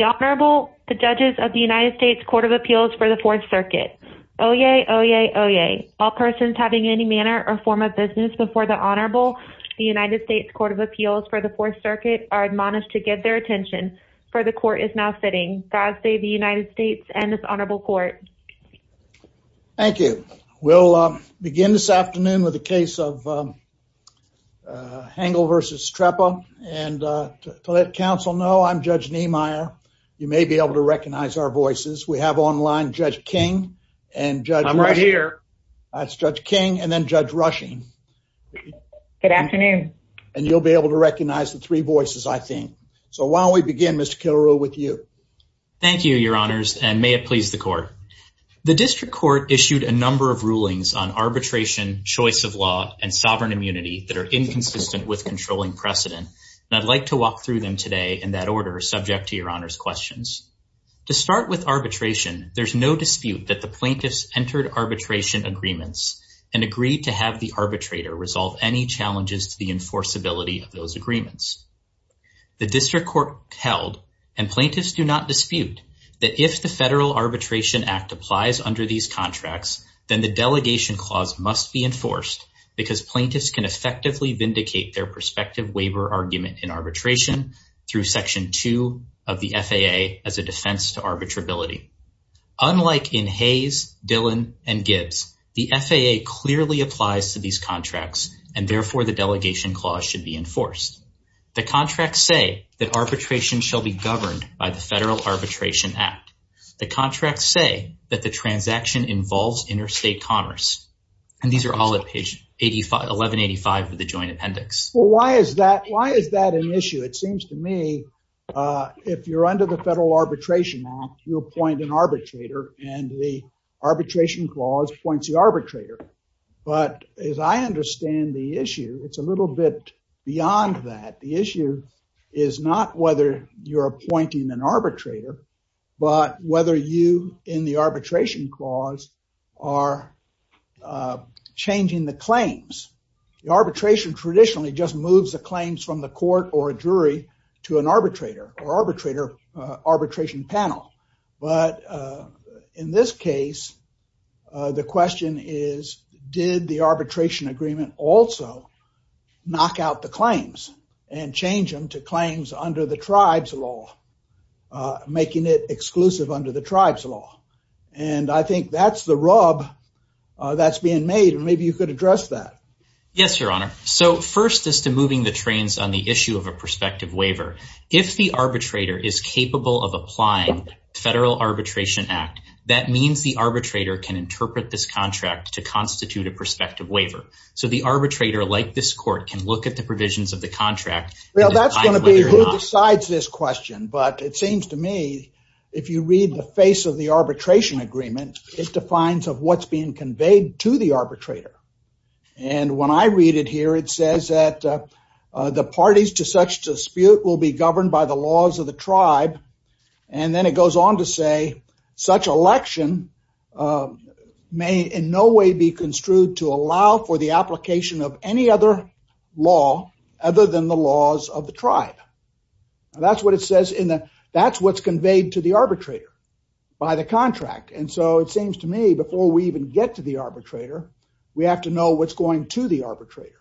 Honorable, the judges of the United States Court of Appeals for the Fourth Circuit. Oyez, oyez, oyez. All persons having any manner or form of business before the Honorable, the United States Court of Appeals for the Fourth Circuit are admonished to give their attention for the court is now sitting. God save the United States and this Honorable Court. Thank you. We'll begin this afternoon with the case of Hengle v. Treppa. And to let counsel know, I'm Judge Niemeyer. You may be able to recognize our voices. We have online Judge King and I'm right here. That's Judge King and then Judge Rushing. Good afternoon. And you'll be able to recognize the three voices, I think. So why don't we begin, Mr. Killereau, with you. Thank you, your honors, and may it please the court. The district court issued a number of rulings on arbitration, choice of law, and sovereign immunity that are inconsistent with controlling precedent. And I'd like to walk through them today in that order, subject to your honors questions. To start with arbitration, there's no dispute that the plaintiffs entered arbitration agreements and agreed to have the arbitrator resolve any challenges to the enforceability of those agreements. The district court held, and plaintiffs do not dispute, that if the Federal Arbitration Act applies under these contracts, then the delegation clause must be enforced because plaintiffs can effectively vindicate their prospective waiver argument in arbitration through section two of the FAA as a defense to arbitrability. Unlike in Hayes, Dillon, and Gibbs, the FAA clearly applies to these contracts and therefore the delegation clause should be enforced. The contracts say that arbitration shall be governed by the Federal Arbitration Act. The transaction involves interstate commerce. And these are all at page 85, 1185 of the joint appendix. Well, why is that? Why is that an issue? It seems to me if you're under the Federal Arbitration Act, you appoint an arbitrator and the arbitration clause points the arbitrator. But as I understand the issue, it's a little bit beyond that. The issue is not whether you're appointing an arbitrator, but whether you in the arbitration clause are changing the claims. The arbitration traditionally just moves the claims from the court or a jury to an arbitrator or arbitration panel. But in this case, the question is, did the arbitration agreement also knock out the claims and change them to claims under the tribe's law, making it exclusive under the tribe's law? And I think that's the rub that's being made. And maybe you could address that. Yes, Your Honor. So first is to moving the trains on the issue of a prospective waiver. If the arbitrator is capable of applying the Federal Arbitration Act, that means the arbitrator can interpret this contract to constitute a prospective waiver. So the arbitrator, like this court, can look at the provisions of the contract and decide whether or not- Well, that's going to be who decides this question. But it seems to me, if you read the face of the arbitration agreement, it defines of what's being conveyed to the arbitrator. And when I read it here, it says that the parties to such dispute will be governed by the laws of the tribe. And then it goes on to say, such election may in no way be construed to allow for the application of any other law other than the laws of the tribe. Now, that's what it says in the- That's what's conveyed to the arbitrator by the contract. And so it seems to me, before we even get to the arbitrator, we have to know what's going to the arbitrator.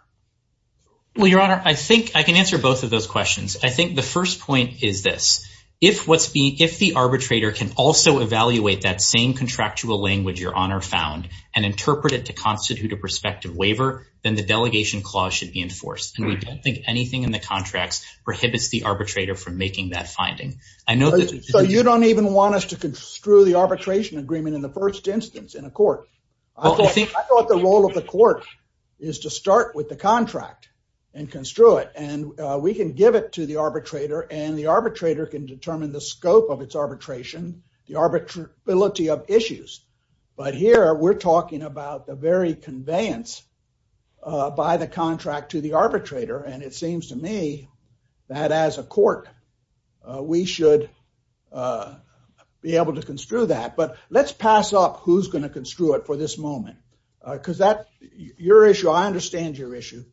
Well, Your Honor, I think I can answer both of those questions. I think the first point is this. If the arbitrator can also evaluate that same contractual language Your Honor found and interpret it to constitute a prospective waiver, then the delegation clause should be enforced. And we don't think anything in the contracts prohibits the arbitrator from making that finding. I know that- So you don't even want us to construe the arbitration agreement in the first instance in a court? I thought the role of the court is to start with the contract and construe it. And we can give it to the arbitrator and the arbitrator can determine the scope of its arbitration, the arbitrability of issues. But here, we're talking about the very conveyance by the contract to the arbitrator. And it seems to me that as a court, we should be able to construe that. But let's pass up who's going to construe it for this moment. Because that- Your issue, I understand your issue.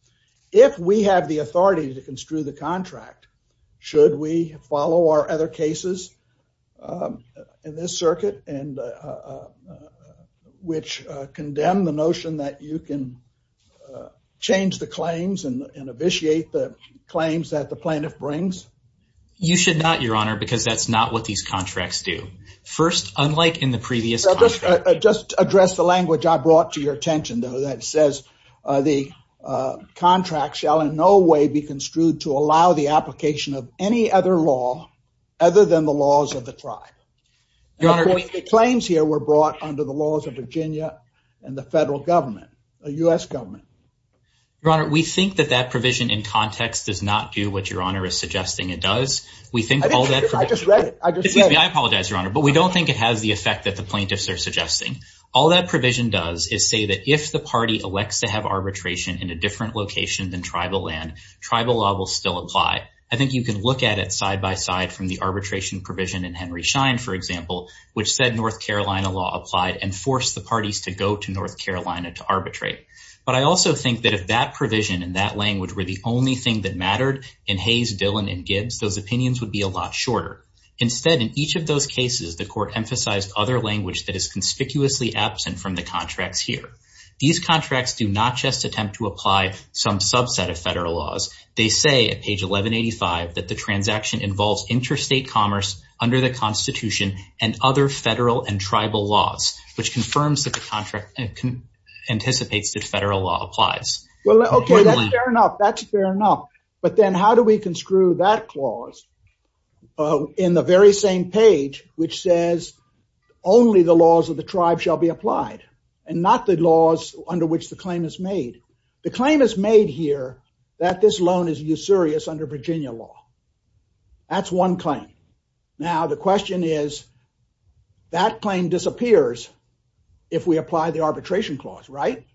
If we have the authority to construe the contract, should we follow our other cases in this circuit, which condemn the notion that you can change the claims and initiate the claims that the plaintiff brings? You should not, Your Honor, because that's not what these contracts do. First, unlike in the previous contract- Just address the language I brought to your attention, though, that says the contract shall in no way be construed to allow the application of any other law other than the laws of the tribe. And of course, the claims here were brought under the laws of Virginia and the federal government, the U.S. government. Your Honor, we think that that provision in context does not do what Your Honor is suggesting it does. We think all that- I just read it. I just read it. Excuse me. I apologize, Your Honor. But we don't think it has the effect that the plaintiffs are suggesting. All that provision does is say that if the party elects to have arbitration in a different location than tribal land, tribal law will still apply. I think you can look at it side by side from the arbitration provision in Henry Schein, for example, which said North Carolina law applied and forced the parties to go to North Carolina to arbitrate. But I also think that if that provision and that language were the only thing that mattered in Hayes, Dillon, and Gibbs, those opinions would be a lot shorter. Instead, in each of those cases, the court emphasized other language that is conspicuously absent from the contracts here. These contracts do not just attempt to apply some subset of federal laws. They say at page 1185 that the transaction involves interstate commerce under the Constitution and other federal and tribal laws, which confirms that the contract anticipates that federal law applies. Well, okay. That's fair enough. That's fair enough. But then how do we construe that clause in the very same page which says only the laws of the tribe shall be applied and not the laws under which the claim is made? The claim is made here that this loan is usurious under Virginia law. That's one claim. Now, the question is that claim disappears if we apply the arbitration clause, right?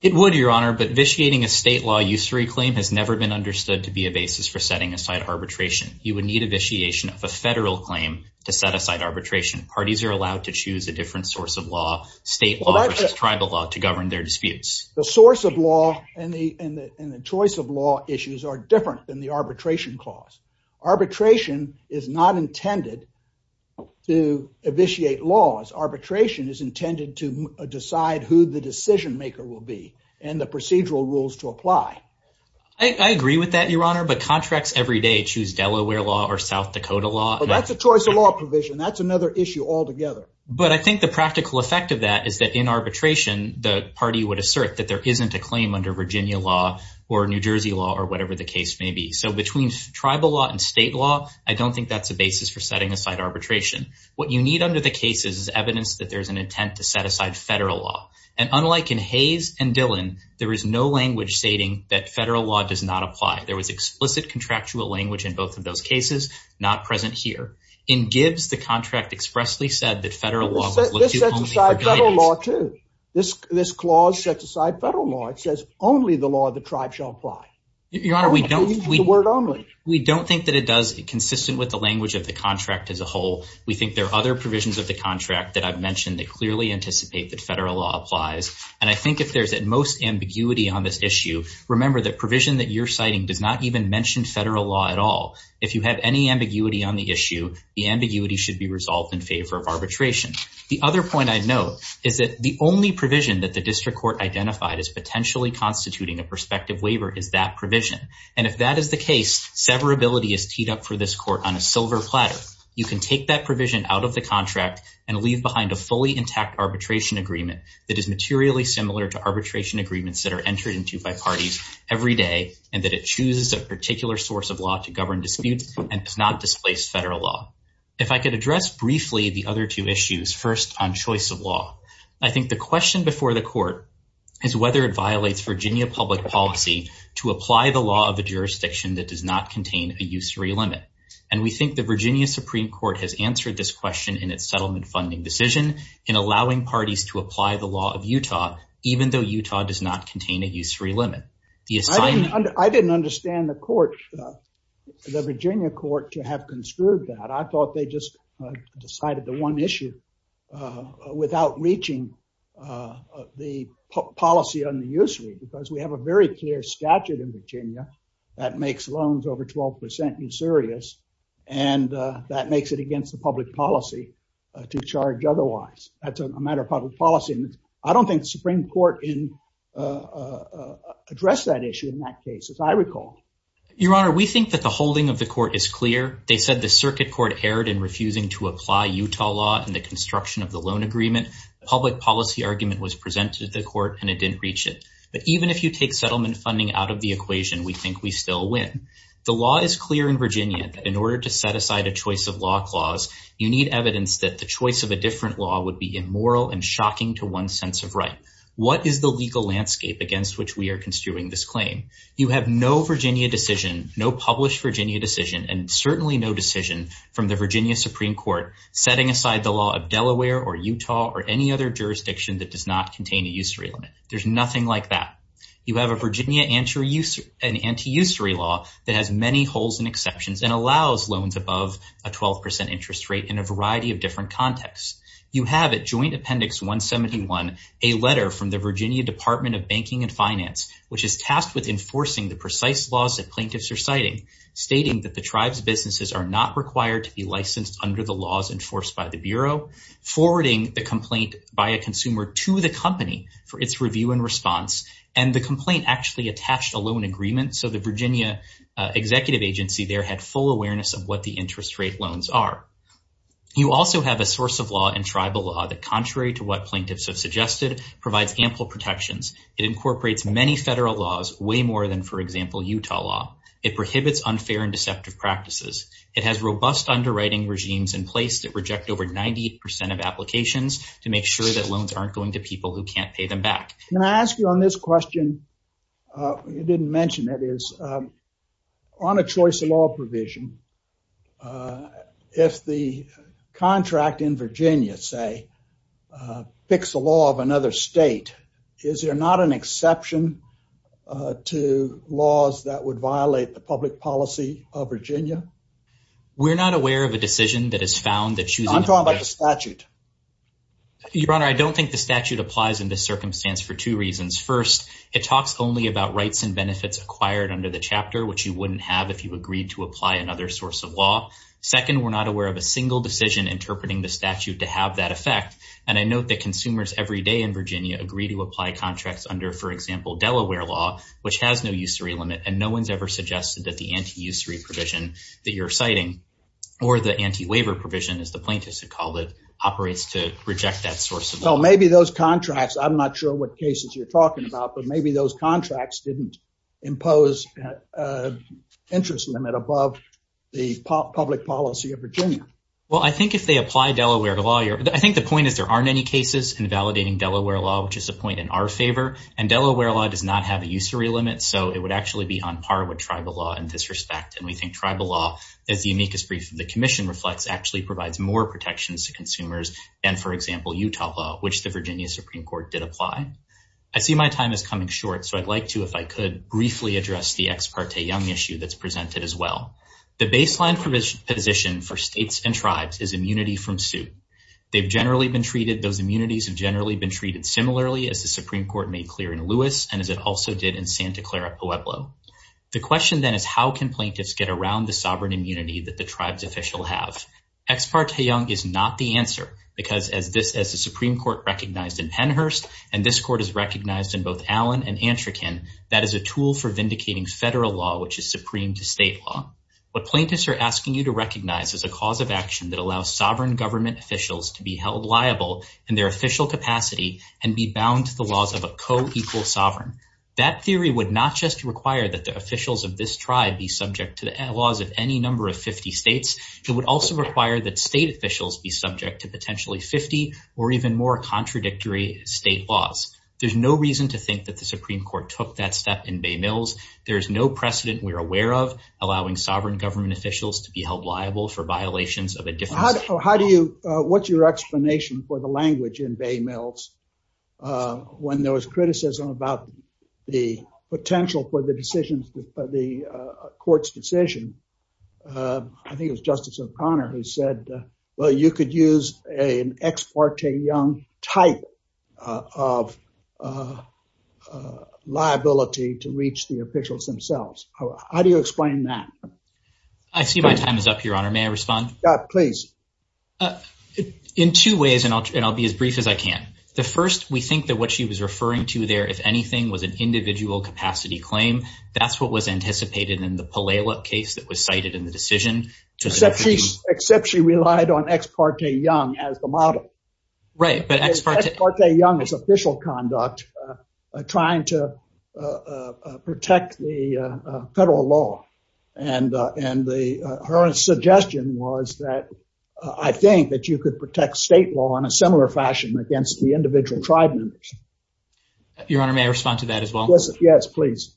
It would, Your Honor, but vitiating a state law usury claim has never been understood to be a basis for setting aside arbitration. You would need a vitiation of a federal claim to set aside arbitration. Parties are allowed to choose a different source of law, state law versus tribal law, to govern their disputes. The source of law and the choice of law issues are different than the arbitration clause. Arbitration is not intended to vitiate laws. Arbitration is intended to decide who the decision maker will be and the procedural rules to apply. I agree with that, Your Honor, but contracts every day choose Delaware law or South Dakota law. That's a choice of law provision. That's another issue altogether. But I think the practical effect of that is that in arbitration, the party would assert that there isn't a claim under Virginia law or New Jersey law or whatever the case may be. So between tribal law and state law, I don't think that's a basis for setting aside arbitration. What you need under the case is evidence that there's an intent to set aside federal law. And unlike in Hayes and Dillon, there is no language stating that federal law does not apply. There was explicit contractual language in both of those cases, not present here. In Gibbs, the contract expressly said that federal law was looked to only for guidance. This sets aside federal law too. This clause sets aside federal law. It says only the law of the tribe shall apply. Your Honor, we don't think that it does consistent with the language of the contract as a whole. We think there are other provisions of the contract that I've mentioned that clearly anticipate that federal law applies. And I think if there's at most ambiguity on this issue, remember that provision that you're citing does not even mention federal law at all. If you have any ambiguity on the issue, the ambiguity should be resolved in favor of arbitration. The other point I'd note is that the only provision that the district court identified as potentially constituting a prospective waiver is that provision. And if that is the case, severability is teed up for this court on a silver platter. You can take that provision out of the contract and leave behind a fully intact arbitration agreement that is materially similar to arbitration agreements that are entered into by parties every day, and that it chooses a particular source of law to govern disputes and does not displace federal law. If I could address briefly the other two issues, first on choice of law, I think the question before the court is whether it violates Virginia public policy to apply the law of the jurisdiction that does not question in its settlement funding decision in allowing parties to apply the law of Utah, even though Utah does not contain a use-free limit. I didn't understand the court, the Virginia court, to have construed that. I thought they just decided the one issue without reaching the policy on the use-free, because we have a very clear statute in Virginia that makes loans over 12% insurious, and that makes it against the public policy to charge otherwise. That's a matter of public policy. I don't think the Supreme Court addressed that issue in that case, as I recall. Your Honor, we think that the holding of the court is clear. They said the circuit court erred in refusing to apply Utah law in the construction of the loan agreement. The public policy argument was presented to the court, and it didn't reach it. But even if you take settlement funding out of the equation, we think we still win. The law is clear in Virginia that in order to set aside a choice of law clause, you need evidence that the choice of a different law would be immoral and shocking to one's sense of right. What is the legal landscape against which we are construing this claim? You have no Virginia decision, no published Virginia decision, and certainly no decision from the Virginia Supreme Court setting aside the law of Delaware or Utah or any other jurisdiction that does not contain a usury limit. There's nothing like that. You have a Virginia anti-usury law that has many holes and exceptions and allows loans above a 12% interest rate in a variety of different contexts. You have at Joint Appendix 171 a letter from the Virginia Department of Banking and Finance, which is tasked with enforcing the precise laws that plaintiffs are citing, stating that the tribe's businesses are not required to be licensed under the laws enforced by the Bureau, forwarding the complaint by a consumer to the company for its review and response, and the complaint actually attached a loan agreement so the Virginia executive agency there had full awareness of what the interest rate loans are. You also have a source of law in tribal law that, contrary to what plaintiffs have suggested, provides ample protections. It incorporates many federal laws, way more than, for example, Utah law. It prohibits unfair and deceptive practices. It has robust underwriting regimes in place that reject over 90% of applications to make sure that loans aren't going to people who can't pay them back. Can I ask you on this question? You didn't mention it is on a choice of law provision. If the contract in Virginia, say, picks a law of another state, is there not an exception to laws that would violate the public policy of Virginia? We're not aware of a decision that has found that choosing... I'm talking about the statute. Your Honor, I don't think the statute applies in this circumstance for two reasons. First, it talks only about rights and benefits acquired under the chapter, which you wouldn't have if you agreed to apply another source of law. Second, we're not aware of a single decision interpreting the statute to have that effect, and I note that consumers every day in Virginia agree to apply contracts under, for example, provision that you're citing, or the anti-waiver provision, as the plaintiffs have called it, operates to reject that source of law. So maybe those contracts, I'm not sure what cases you're talking about, but maybe those contracts didn't impose an interest limit above the public policy of Virginia. Well, I think if they apply Delaware law, I think the point is there aren't any cases invalidating Delaware law, which is a point in our favor, and Delaware law does not have a usury limit, so it would actually be on par with tribal law in this respect, and we think tribal law, as the amicus brief of the commission reflects, actually provides more protections to consumers than, for example, Utah law, which the Virginia Supreme Court did apply. I see my time is coming short, so I'd like to, if I could, briefly address the ex parte young issue that's presented as well. The baseline position for states and tribes is immunity from suit. They've generally been treated... Those immunities have generally been treated similarly, as the Supreme Court made clear in Lewis, and as it also did in Santa Clara Pueblo. The question then is, how can plaintiffs get around the sovereign immunity that the tribe's official have? Ex parte young is not the answer, because as this, as the Supreme Court recognized in Henhurst, and this court is recognized in both Allen and Antrican, that is a tool for vindicating federal law, which is supreme to state law. What plaintiffs are asking you to recognize is a cause of action that allows sovereign government officials to be held liable in their official capacity and be bound to the laws of a co-equal sovereign. That theory would not just require that the officials of this tribe be subject to the laws of any number of 50 states. It would also require that state officials be subject to potentially 50 or even more contradictory state laws. There's no reason to think that the Supreme Court took that step in Bay Mills. There's no precedent we're aware of allowing sovereign government officials to be held liable for violations of a different- How do you, what's your explanation for the language in Bay Mills when there was criticism about the potential for the decisions, the court's decision? I think it was Justice O'Connor who said, well, you could use an ex parte young type of liability to reach the officials themselves. How do you explain that? I see my time is up, Your Honor. May I respond? Yeah, please. In two ways, and I'll be as brief as I can. The first, we think that what she was referring to there, if anything, was an individual capacity claim. That's what was anticipated in the Palela case that was cited in the decision. Except she relied on ex parte young as the model. Ex parte young is official conduct trying to protect the federal law. Her suggestion was that I think that you could protect state law in a similar fashion against the individual tribe members. Your Honor, may I respond to that as well? Yes, please.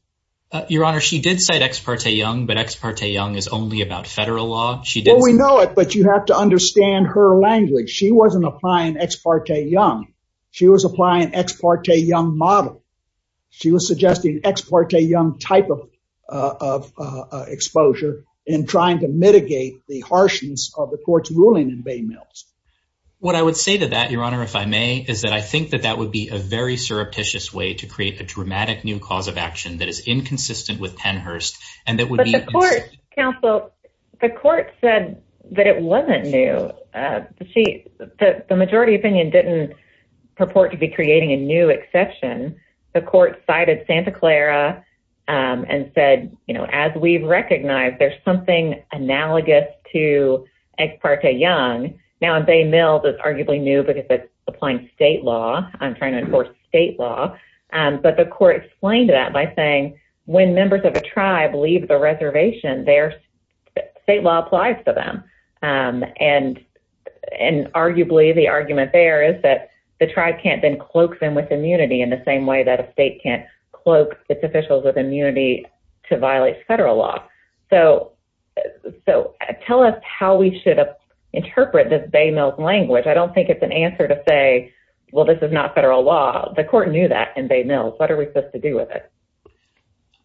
Your Honor, she did say ex parte young, but ex parte young is only about federal law. We know it, but you have to understand her language. She wasn't applying ex parte young. She was applying ex parte young model. She was suggesting ex parte young type of exposure in trying to mitigate the harshness of the court's ruling in Bay Mills. What I would say to that, Your Honor, if I may, is that I think that that would be a very surreptitious way to create a dramatic new cause of action that is inconsistent with Penn said that it wasn't new. The majority opinion didn't purport to be creating a new exception. The court cited Santa Clara and said, as we recognize there's something analogous to ex parte young. Now in Bay Mills, it's arguably new because it's applying state law. I'm trying to enforce state law, but the court explained that by saying when members of a tribe leave a reservation, their state law applies to them. And arguably the argument there is that the tribe can't then cloak them with immunity in the same way that a state can't cloak its officials with immunity to violate federal law. So tell us how we should interpret this Bay Mills language. I don't think it's an answer to say, well, this is not federal law. The court knew that in Bay Mills. What are we supposed to do with it?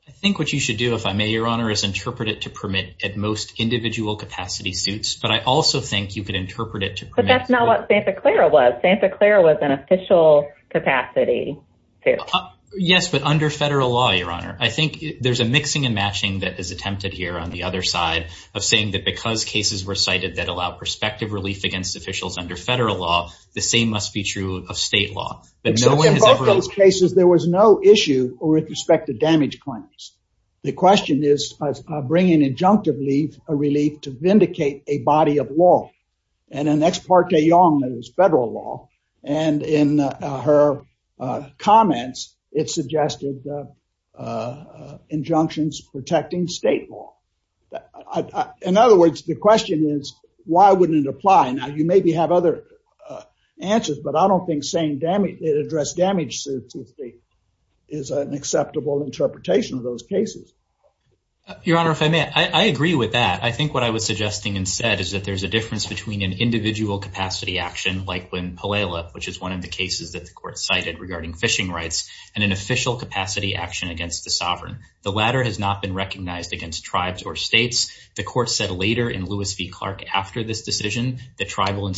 I think what you should do, if I may, Your Honor, is interpret it to permit at most individual capacity suits. But I also think you could interpret it. But that's not what Santa Clara was. Santa Clara was an official capacity. Yes, but under federal law, Your Honor, I think there's a mixing and matching that is attempted here on the other side of saying that because cases were cited that allow perspective relief against officials under federal law, the same must be true of state law. But no one has ever cases. There was no issue or with respect to damage claims. The question is bringing injunctive leave a relief to vindicate a body of law and an ex parte young that is federal law. And in her comments, it suggested injunctions protecting state law. In other words, the question is, why wouldn't it apply? Now you maybe have other answers, but I don't think saying it addressed damage is an acceptable interpretation of those cases. Your Honor, if I may, I agree with that. I think what I was suggesting and said is that there's a difference between an individual capacity action like when Palela, which is one of the cases that the court cited regarding fishing rights and an official capacity action against the sovereign. The latter has not been recognized against tribes or states. The court said later in Lewis v. Clark after this decision that tribal and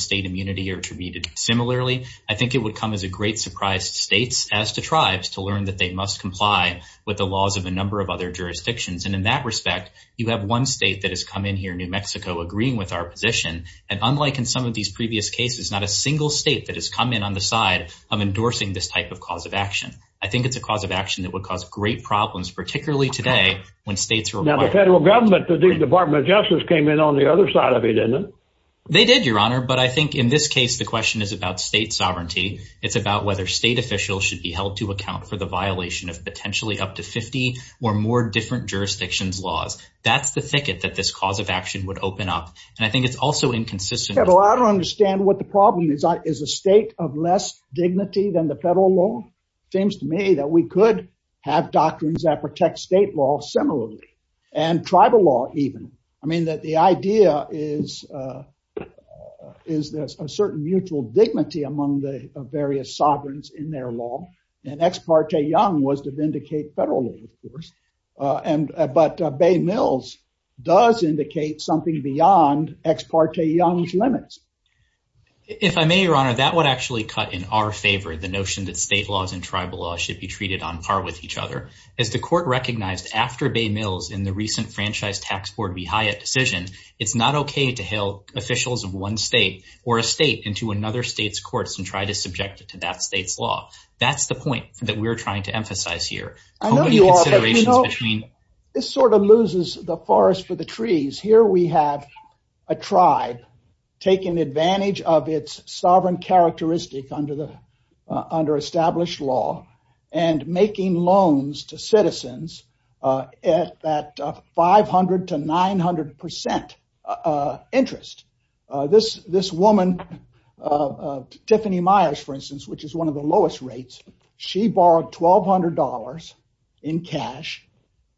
great surprised states as to tribes to learn that they must comply with the laws of a number of other jurisdictions. And in that respect, you have one state that has come in here, New Mexico, agreeing with our position. And unlike in some of these previous cases, not a single state that has come in on the side of endorsing this type of cause of action. I think it's a cause of action that would cause great problems, particularly today when states are now the federal government. The Department of Justice came in on the other side of it. And they did, Your Honor. But I think in this case, the question is about state sovereignty. It's about whether state officials should be held to account for the violation of potentially up to 50 or more different jurisdictions laws. That's the thicket that this cause of action would open up. And I think it's also inconsistent. Well, I don't understand what the problem is. Is a state of less dignity than the federal law? It seems to me that we could have doctrines that protect state law similarly and tribal law even. I mean, the idea is there's a certain mutual dignity among various sovereigns in their law. And Ex parte Young was to vindicate federal law, of course. But Bay Mills does indicate something beyond Ex parte Young's limits. If I may, Your Honor, that would actually cut in our favor the notion that state laws and tribal laws should be treated on par with each other. As the court recognized after Bay Mills in the recent Franchise Tax Board v. Hyatt decision, it's not okay to hail officials of one state or a state into another state's courts and try to subject it to that state's law. That's the point that we're trying to emphasize here. This sort of loses the forest for the trees. Here we have a tribe taking advantage of its sovereign characteristic under established law and making loans to citizens at 500 to 900 percent interest. This woman, Tiffany Myers, for instance, which is one of the lowest rates, she borrowed $1,200 in cash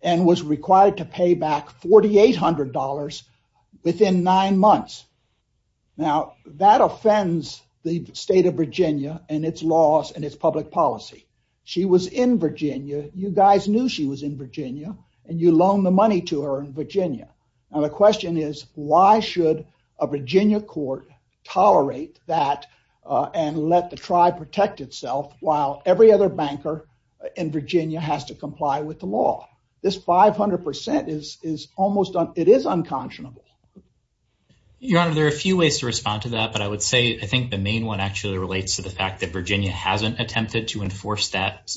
and was required to pay back $4,800 within nine months. Now, that offends the state of Virginia and its laws and its public policy. She was in Virginia, you guys knew she was in Virginia, and you loaned the money to her in Virginia. The question is, why should a Virginia court tolerate that and let the tribe protect itself while every other banker in Virginia has to comply with the law? This 500 percent, it is unconscionable. Your Honor, there are a few ways to respond to that, but I would say I think the main one actually relates to the fact that Virginia hasn't attempted to enforce that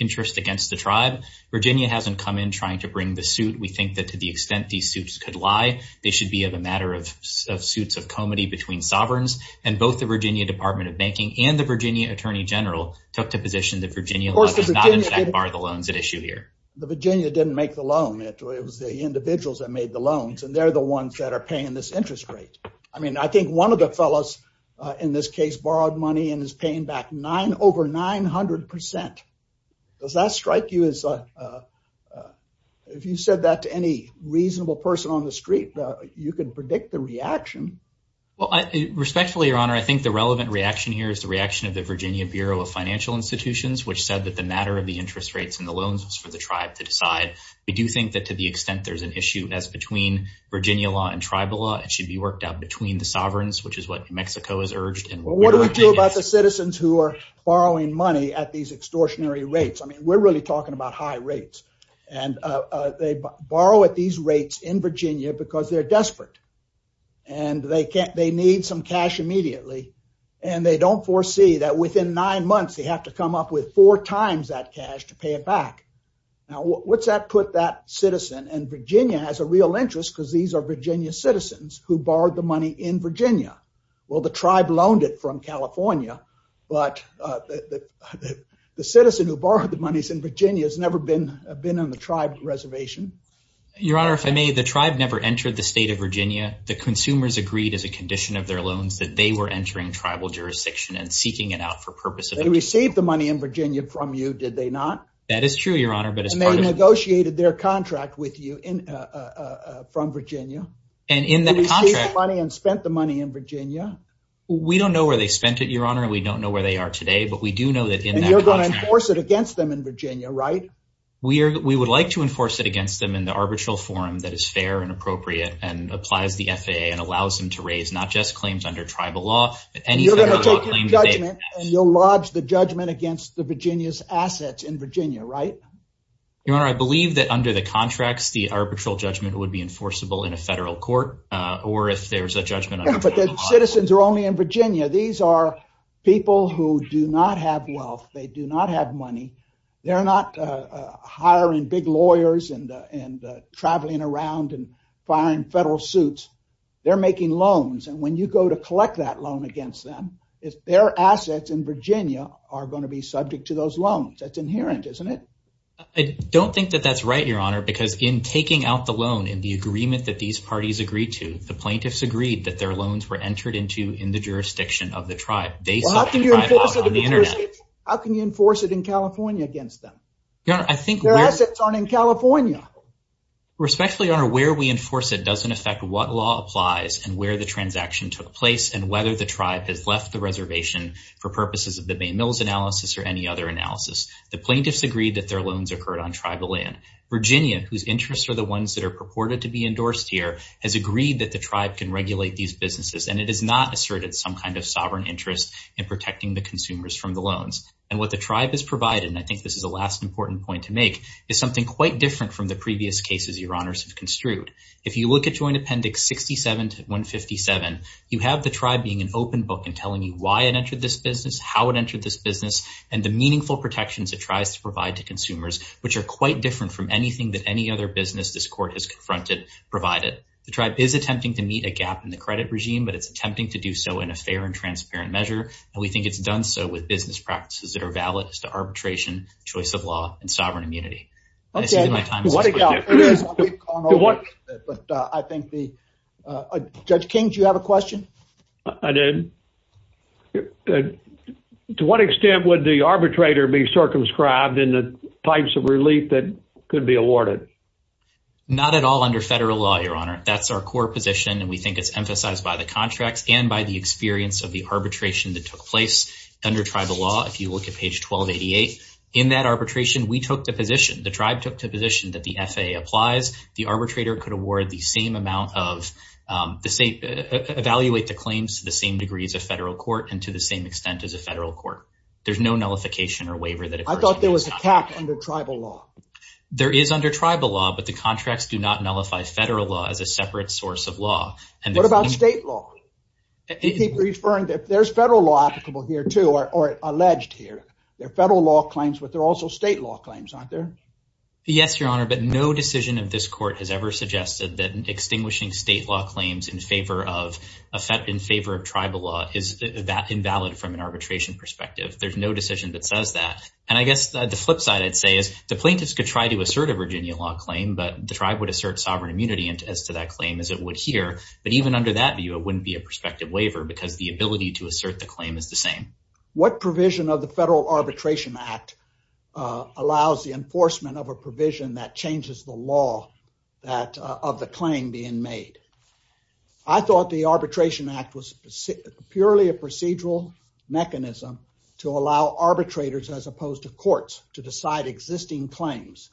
interest against the tribe. Virginia hasn't come in trying to bring the suit. We think that to the lie, they should be of a matter of suits of comity between sovereigns, and both the Virginia Department of Banking and the Virginia Attorney General took to position that Virginia did not in fact bar the loans at issue here. The Virginia didn't make the loan. It was the individuals that made the loans, and they're the ones that are paying this interest rate. I mean, I think one of the fellows in this case borrowed money and is paying back over 900 percent. Does that strike you as, if you said that to any reasonable person on the street, you can predict the reaction? Well, respectfully, Your Honor, I think the relevant reaction here is the reaction of the Virginia Bureau of Financial Institutions, which said that the matter of the interest rates and the loans was for the tribe to decide. We do think that to the extent there's an issue as between Virginia law and tribal law, it should be worked out between the sovereigns, which is what New Mexico has urged. Well, what do we do about the citizens who are borrowing money at these extortionary rates? I mean, we're really talking about high rates, and they borrow at these rates in Virginia because they're desperate, and they need some cash immediately, and they don't foresee that within nine months they have to come up with four times that cash to pay it back. Now, what's that put that citizen? And Virginia has a real interest because these are Virginia citizens who borrowed the money in Virginia. Well, the tribe loaned it from California, but the citizen who borrowed the money in Virginia has never been on the tribe reservation. Your Honor, if I may, the tribe never entered the state of Virginia. The consumers agreed as a condition of their loans that they were entering tribal jurisdiction and seeking it out for purpose of... They received the money in Virginia from you, did they not? That is true, Your Honor, but as part of... And they negotiated their contract with you from Virginia. And in that contract... They received the money and spent the money in Virginia. We don't know where they spent it, we don't know where they are today, but we do know that in that contract... And you're going to enforce it against them in Virginia, right? We would like to enforce it against them in the arbitral forum that is fair and appropriate and applies the FAA and allows them to raise not just claims under tribal law, but any federal law claims that they pass. You're going to take your judgment and you'll lodge the judgment against the Virginia's assets in Virginia, right? Your Honor, I believe that under the contracts, the arbitral judgment would be enforceable in a federal court, or if there's a judgment under tribal law... But the citizens are only in people who do not have wealth. They do not have money. They're not hiring big lawyers and traveling around and firing federal suits. They're making loans. And when you go to collect that loan against them, their assets in Virginia are going to be subject to those loans. That's inherent, isn't it? I don't think that that's right, Your Honor, because in taking out the loan, in the agreement that these parties agreed to, the plaintiffs agreed that their loans were based on tribal law on the internet. How can you enforce it in California against them? Their assets aren't in California. Respectfully, Your Honor, where we enforce it doesn't affect what law applies and where the transaction took place and whether the tribe has left the reservation for purposes of the Bay Mills analysis or any other analysis. The plaintiffs agreed that their loans occurred on tribal land. Virginia, whose interests are the ones that are purported to be endorsed here, has agreed that the tribe can regulate these businesses, and it has not some kind of sovereign interest in protecting the consumers from the loans. And what the tribe has provided, and I think this is the last important point to make, is something quite different from the previous cases Your Honors have construed. If you look at Joint Appendix 67-157, you have the tribe being an open book in telling you why it entered this business, how it entered this business, and the meaningful protections it tries to provide to consumers, which are quite different from anything that any other business this Court has confronted provided. The tribe is attempting to meet a gap in the credit regime, but it's attempting to do so in a fair and transparent measure, and we think it's done so with business practices that are valid as to arbitration, choice of law, and sovereign immunity. Okay. I see that my time is up. To what extent would the arbitrator be circumscribed in the types of relief that could be awarded? Not at all under federal law, Your Honor. That's our core position, and we think it's emphasized by the contracts and by the experience of the arbitration that took place under tribal law. If you look at page 1288, in that arbitration, we took the position, the tribe took the position that the FAA applies. The arbitrator could award the same amount of, evaluate the claims to the same degree as a federal court and to the same extent as a federal court. There's no nullification or waiver that occurs. I thought there was a cap under tribal law. There is under tribal law, but the contracts do not nullify federal law as a separate source of What about state law? You keep referring that there's federal law applicable here, too, or alleged here. There are federal law claims, but there are also state law claims, aren't there? Yes, Your Honor, but no decision of this court has ever suggested that extinguishing state law claims in favor of tribal law is that invalid from an arbitration perspective. There's no decision that says that, and I guess the flip side I'd say is the plaintiffs could try to assert a Virginia law claim, but the tribe would assert sovereign immunity as to that claim as it would hear. But even under that view, it wouldn't be a prospective waiver because the ability to assert the claim is the same. What provision of the Federal Arbitration Act allows the enforcement of a provision that changes the law that of the claim being made? I thought the Arbitration Act was purely a procedural mechanism to allow arbitrators as opposed to courts to decide existing claims,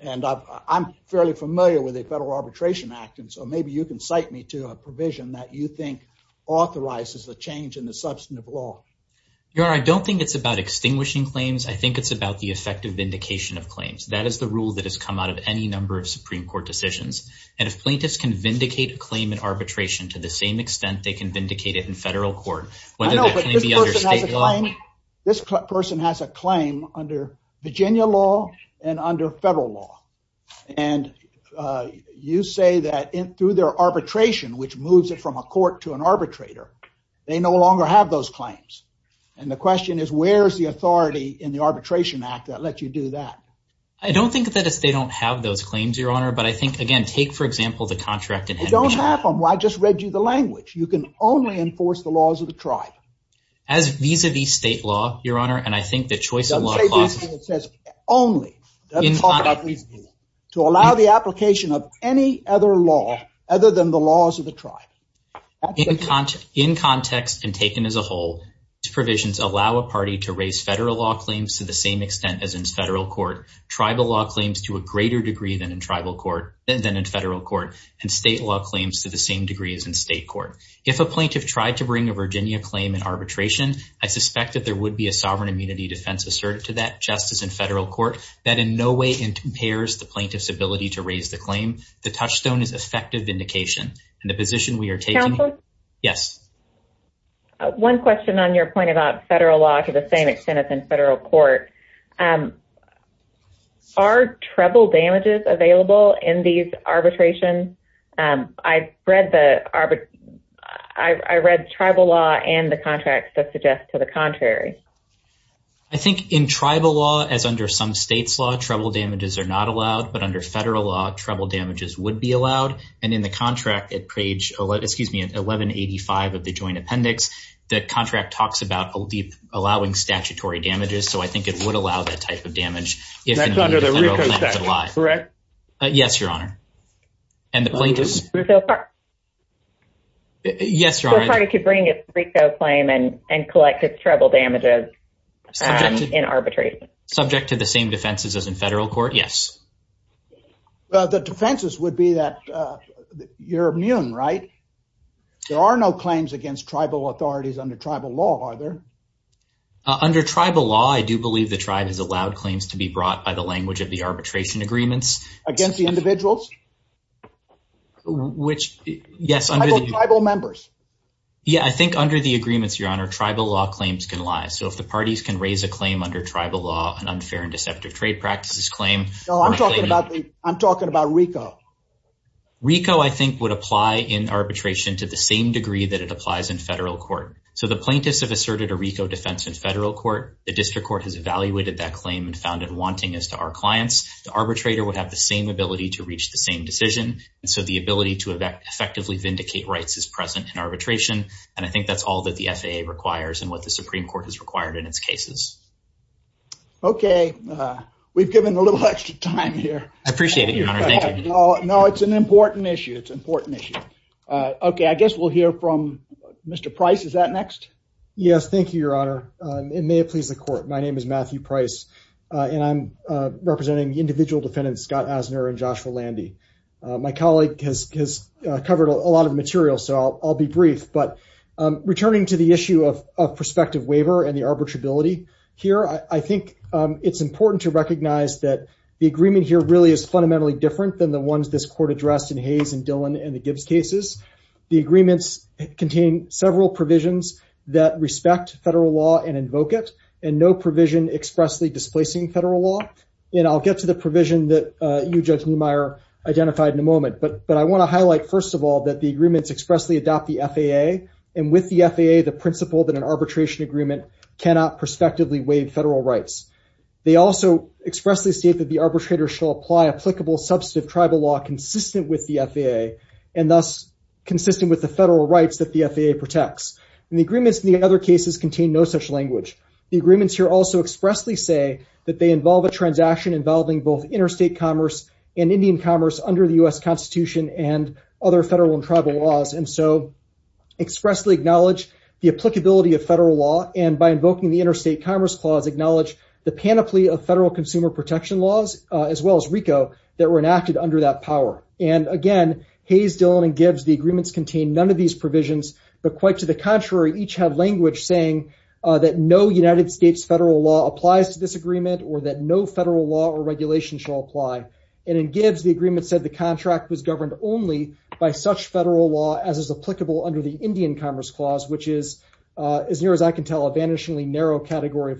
and I'm fairly familiar with the Federal Arbitration Act, and so maybe you can cite me to a provision that you think authorizes the change in the substantive law. Your Honor, I don't think it's about extinguishing claims. I think it's about the effective vindication of claims. That is the rule that has come out of any number of Supreme Court decisions, and if plaintiffs can vindicate a claim in arbitration to the same extent they can understate the claim. This person has a claim under Virginia law and under Federal law, and you say that through their arbitration, which moves it from a court to an arbitrator, they no longer have those claims. And the question is, where's the authority in the Arbitration Act that lets you do that? I don't think that they don't have those claims, Your Honor, but I think, again, take, for example, the contract. They don't have them. I just read you the language. You can only enforce the laws of the tribe. As vis-a-vis state law, Your Honor, and I think that choice in law clauses... Don't say vis-a-vis. It says only. To allow the application of any other law other than the laws of the tribe. In context and taken as a whole, these provisions allow a party to raise Federal law claims to the same extent as in Federal court, Tribal law claims to a greater degree than in Federal court, and State law claims to the same degree as in State court. If a plaintiff tried to bring a Virginia claim in arbitration, I suspect that there would be a sovereign immunity defense asserted to that just as in Federal court that in no way impairs the plaintiff's ability to raise the claim. The touchstone is effective vindication, and the position we are taking... Yes. One question on your point about Federal law to the same extent as in Federal court. Are Tribal damages available in these arbitrations? I read the... I read Tribal law and the contracts that suggest to the contrary. I think in Tribal law, as under some States law, Tribal damages are not allowed, but under Federal law, Tribal damages would be allowed, and in the contract at page 1185 of the joint appendix, the contract talks about allowing statutory damages, so I think it would allow that type of damage. That's under the RICO section, correct? Yes, Your Honor. And the plaintiff's... Yes, Your Honor. So a party could bring a RICO claim and collect its Tribal damages in arbitration. Subject to the same defenses as in Federal court, yes. Well, the defenses would be that you're immune, right? There are no claims against Tribal authorities under Tribal law, are there? Under Tribal law, I do believe the Tribe has allowed claims to be brought by the language of the arbitration agreements. Against the individuals? Which... Yes, under the... Tribal members. Yeah, I think under the agreements, Your Honor, Tribal law claims can lie. So if the parties can raise a claim under Tribal law, an unfair and deceptive trade practices claim... No, I'm talking about RICO. RICO, I think, would apply in arbitration to the same degree that it applies in Federal court. So the plaintiffs have asserted a RICO defense in Federal court. The District Court has evaluated that claim and found it wanting as to our clients. The arbitrator would have the same ability to reach the same decision. And so the ability to effectively vindicate rights is present in arbitration. And I think that's all that the FAA requires and what the Supreme Court has required in its cases. Okay, we've given a little extra time here. I appreciate it, Your Honor. Thank you. No, it's an important issue. It's an important issue. Okay, I guess we'll hear from Mr. Price. Is that next? Yes. Thank you, Your Honor. And may it please the court. My name is Matthew Price and I'm representing the individual defendants, Scott Asner and Joshua Landy. My colleague has covered a lot of material, so I'll be brief. But returning to the issue of prospective waiver and the arbitrability here, I think it's important to recognize that the arbitrability is fundamentally different than the ones this court addressed in Hayes and Dillon and the Gibbs cases. The agreements contain several provisions that respect federal law and invoke it and no provision expressly displacing federal law. And I'll get to the provision that you, Judge Niemeyer, identified in a moment. But I want to highlight, first of all, that the agreements expressly adopt the FAA and with the FAA, the principle that an arbitration agreement cannot prospectively waive federal rights. They also expressly state that the applicable substantive tribal law consistent with the FAA and thus consistent with the federal rights that the FAA protects. And the agreements in the other cases contain no such language. The agreements here also expressly say that they involve a transaction involving both interstate commerce and Indian commerce under the U.S. Constitution and other federal and tribal laws. And so expressly acknowledge the applicability of federal law and by invoking the interstate commerce clause, acknowledge the panoply of federal consumer protection laws, as well as RICO, that were enacted under that power. And again, Hayes, Dillon, and Gibbs, the agreements contain none of these provisions, but quite to the contrary, each have language saying that no United States federal law applies to this agreement or that no federal law or regulation shall apply. And in Gibbs, the agreement said the contract was governed only by such federal law as is applicable under the Indian commerce clause, which is as near as I can tell a vanishingly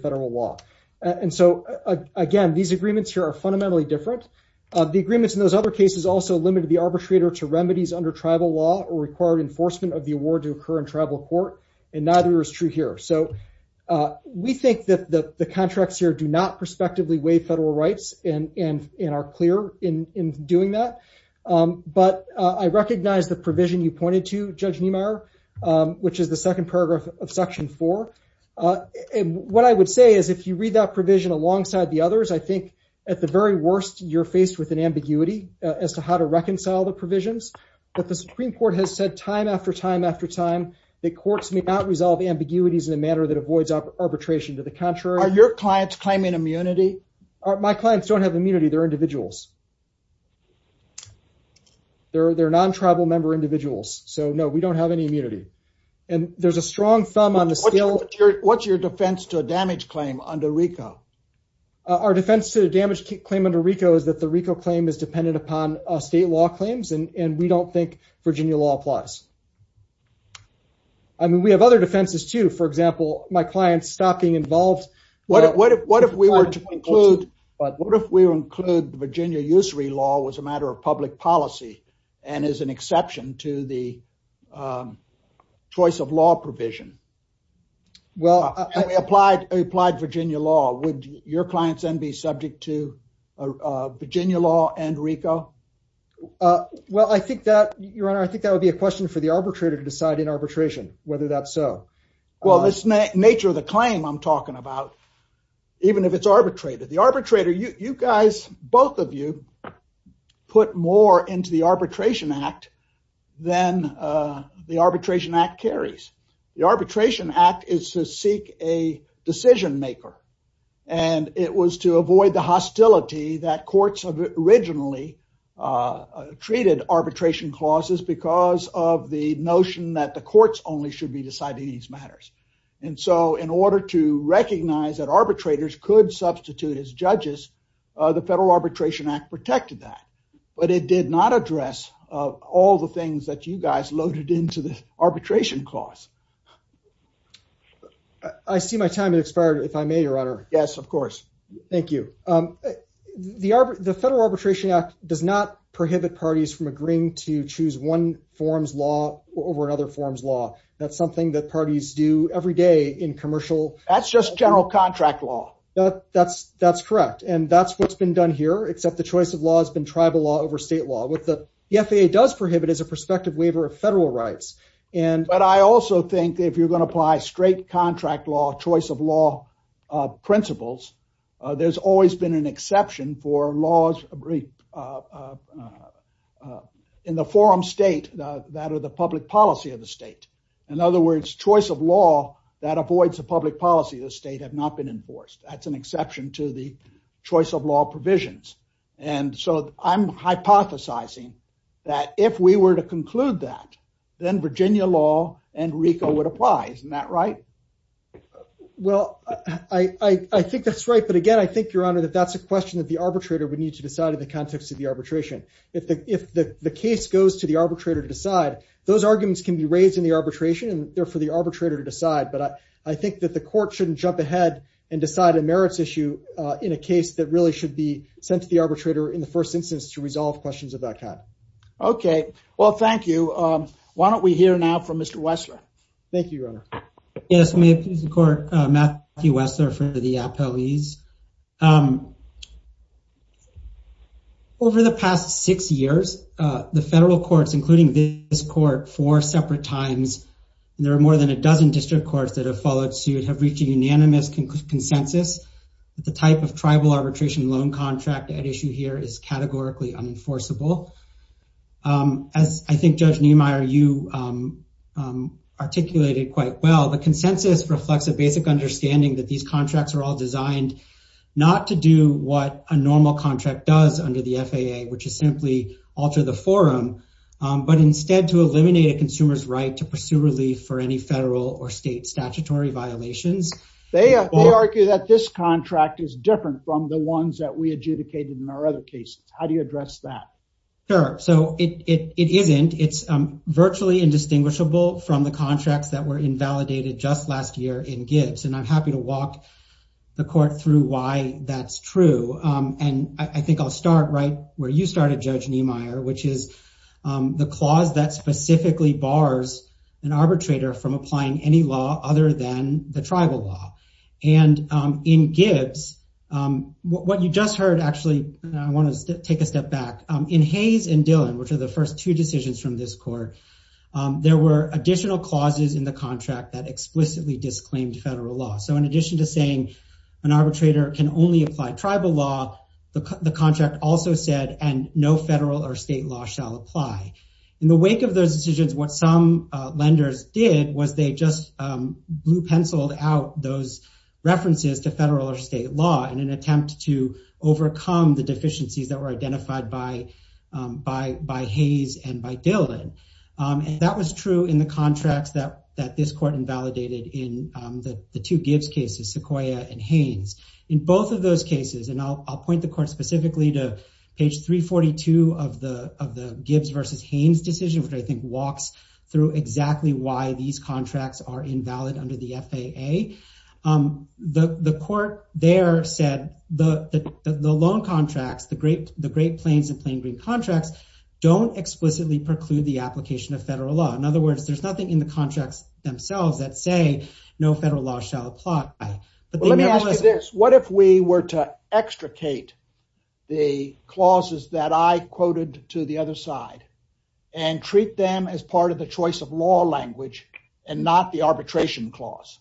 federal law. And so again, these agreements here are fundamentally different. The agreements in those other cases also limited the arbitrator to remedies under tribal law or required enforcement of the award to occur in tribal court. And neither is true here. So we think that the contracts here do not prospectively weigh federal rights and are clear in doing that. But I recognize the provision you pointed to, Judge Niemeyer, which is the second paragraph of Section 4. And what I would say is if you read that provision alongside the others, I think at the very worst, you're faced with an ambiguity as to how to reconcile the provisions. But the Supreme Court has said time after time after time that courts may not resolve ambiguities in a manner that avoids arbitration. To the contrary- Are your clients claiming immunity? My clients don't have immunity. They're individuals. They're non-tribal member individuals. So no, we don't have any immunity. And there's a strong thumb on the- What's your defense to a damage claim under RICO? Our defense to the damage claim under RICO is that the RICO claim is dependent upon state law claims, and we don't think Virginia law applies. I mean, we have other defenses too. For example, my clients stop being involved- What if we were to include the Virginia usury law was a matter of public policy and is an exception to the choice of law provision? Well- And we applied Virginia law. Would your clients then be subject to Virginia law and RICO? Well, I think that, Your Honor, I think that would be a question for the arbitrator to decide in arbitration, whether that's so. Well, this nature of the claim I'm talking about, even if it's arbitrated, the arbitrator, you guys, both of you, put more into the Arbitration Act than the Arbitration Act carries. The Arbitration Act is to seek a decision maker, and it was to avoid the hostility that courts originally treated arbitration clauses because of the notion that the courts only should be deciding these matters. And so in order to recognize that arbitrators could substitute as judges, the Federal Arbitration Act protected that, but it did not address all the things that you guys loaded into the arbitration clause. I see my time has expired, if I may, Your Honor. Yes, of course. Thank you. The Federal Arbitration Act does not prohibit parties from agreeing to choose one form's law over another form's law. That's something that parties do every day in commercial... That's just general contract law. That's correct. And that's what's been done here, except the choice of law has been tribal law over state law. What the FAA does prohibit is a prospective waiver of federal rights. But I also think if you're going to apply straight contract law, choice of law principles, there's always been an exception for laws in the forum state that are the public policy of the state. In other words, choice of law that avoids the public policy of the state have not been enforced. That's an exception to the choice of law provisions. And so I'm hypothesizing that if we were to conclude that, then Virginia law and RICO would apply. Isn't that right? Well, I think that's right. But again, I think, Your Honor, that that's a question that the arbitrator would need to decide in the context of the arbitration. If the case goes to the arbitrator to decide, those arguments can be raised in the arbitration and therefore the arbitrator to decide. But I think that the court shouldn't jump ahead and decide a merits issue in a case that really should be sent to the arbitrator in the first instance to resolve questions of that kind. Okay. Well, thank you. Why don't we hear now from Mr. Wessler? Thank you, Your Honor. Yes. Matthew Wessler for the appellees. Over the past six years, the federal courts, including this court, four separate times, there are more than a dozen district courts that have followed suit, have reached a unanimous consensus that the type of tribal arbitration loan contract at issue here is categorically unenforceable. As I think Judge Niemeyer, you articulated quite well, the consensus reflects a basic understanding that these contracts are all designed not to do what a normal contract does under the FAA, which is simply alter the forum, but instead to eliminate a consumer's right to pursue relief for any federal or state statutory violations. They argue that this contract is different from the ones that we adjudicated in our other cases. How do you address that? Sure. So it isn't, it's virtually indistinguishable from the contracts that were invalidated just last year in Gibbs. And I'm happy to walk the court through why that's true. And I think I'll start right where you started, Judge Niemeyer, which is the clause that specifically bars an arbitrator from applying any law other than the tribal law. And in take a step back, in Hayes and Dillon, which are the first two decisions from this court, there were additional clauses in the contract that explicitly disclaimed federal law. So in addition to saying an arbitrator can only apply tribal law, the contract also said, and no federal or state law shall apply. In the wake of those decisions, what some lenders did was they just blue penciled out those references to federal or state law in an identified by Hayes and by Dillon. And that was true in the contracts that this court invalidated in the two Gibbs cases, Sequoia and Haynes. In both of those cases, and I'll point the court specifically to page 342 of the Gibbs versus Haynes decision, which I think walks through exactly why these contracts are invalid under the FAA. The court there said the loan contracts, the Great Plains and Plain Green contracts don't explicitly preclude the application of federal law. In other words, there's nothing in the contracts themselves that say no federal law shall apply. But let me ask you this, what if we were to extricate the clauses that I quoted to the other side and treat them as part of the choice of law language and not the arbitration clause?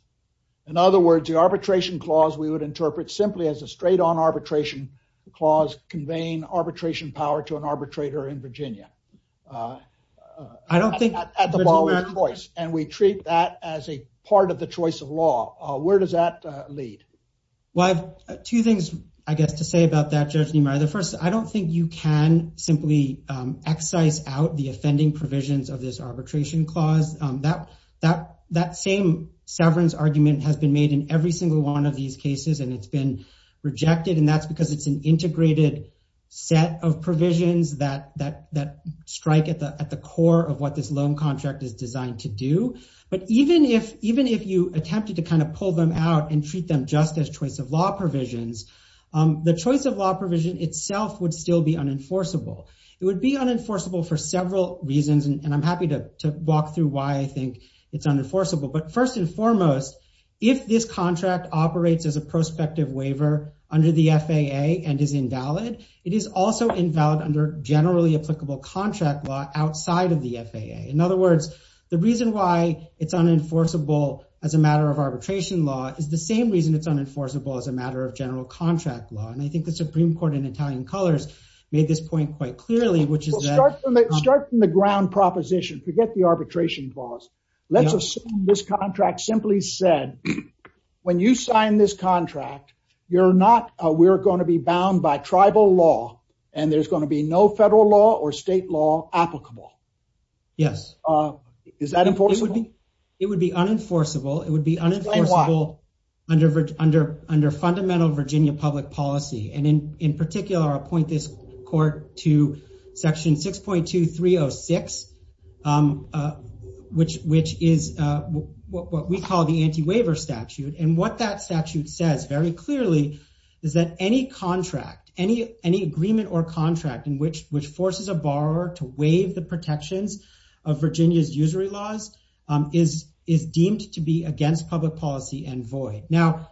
In other words, the arbitration clause we would interpret simply as a straight on arbitration clause conveying arbitration power to an arbitrator in Virginia. I don't think at the ball of choice, and we treat that as a part of the choice of law. Where does that lead? Well, I have two things, I guess, to say about that, Judge Niemeyer. The first, I don't think you can simply excise out the offending provisions of this arbitration clause. That same severance argument has been made in every single one of these cases and it's been rejected. And that's because it's an integrated set of provisions that strike at the core of what this loan contract is designed to do. But even if you attempted to kind of pull them out and treat them just as choice of law provisions, the choice of law provision itself would still be unenforceable. It would be unenforceable for several reasons. And I'm happy to walk through why I think it's unenforceable. But first and foremost, if this contract operates as a prospective waiver under the FAA and is invalid, it is also invalid under generally applicable contract law outside of the FAA. In other words, the reason why it's unenforceable as a matter of arbitration law is the same reason it's unenforceable as a matter of general contract law. And I think the Supreme Court in Italian colors made this point quite clearly, which is- Start from the ground proposition, forget the arbitration laws. Let's assume this contract simply said, when you sign this contract, you're not, we're going to be bound by tribal law and there's going to be no federal law or state law applicable. Yes. Is that unenforceable? It would be unenforceable. It would be unenforceable under fundamental Virginia public policy. And in particular, I'll point this court to section 6.2306, which is what we call the anti-waiver statute. And what that statute says very clearly is that any contract, any agreement or contract in which forces a borrower to waive the protections of Virginia's usury laws is deemed to be against public policy and void. Now,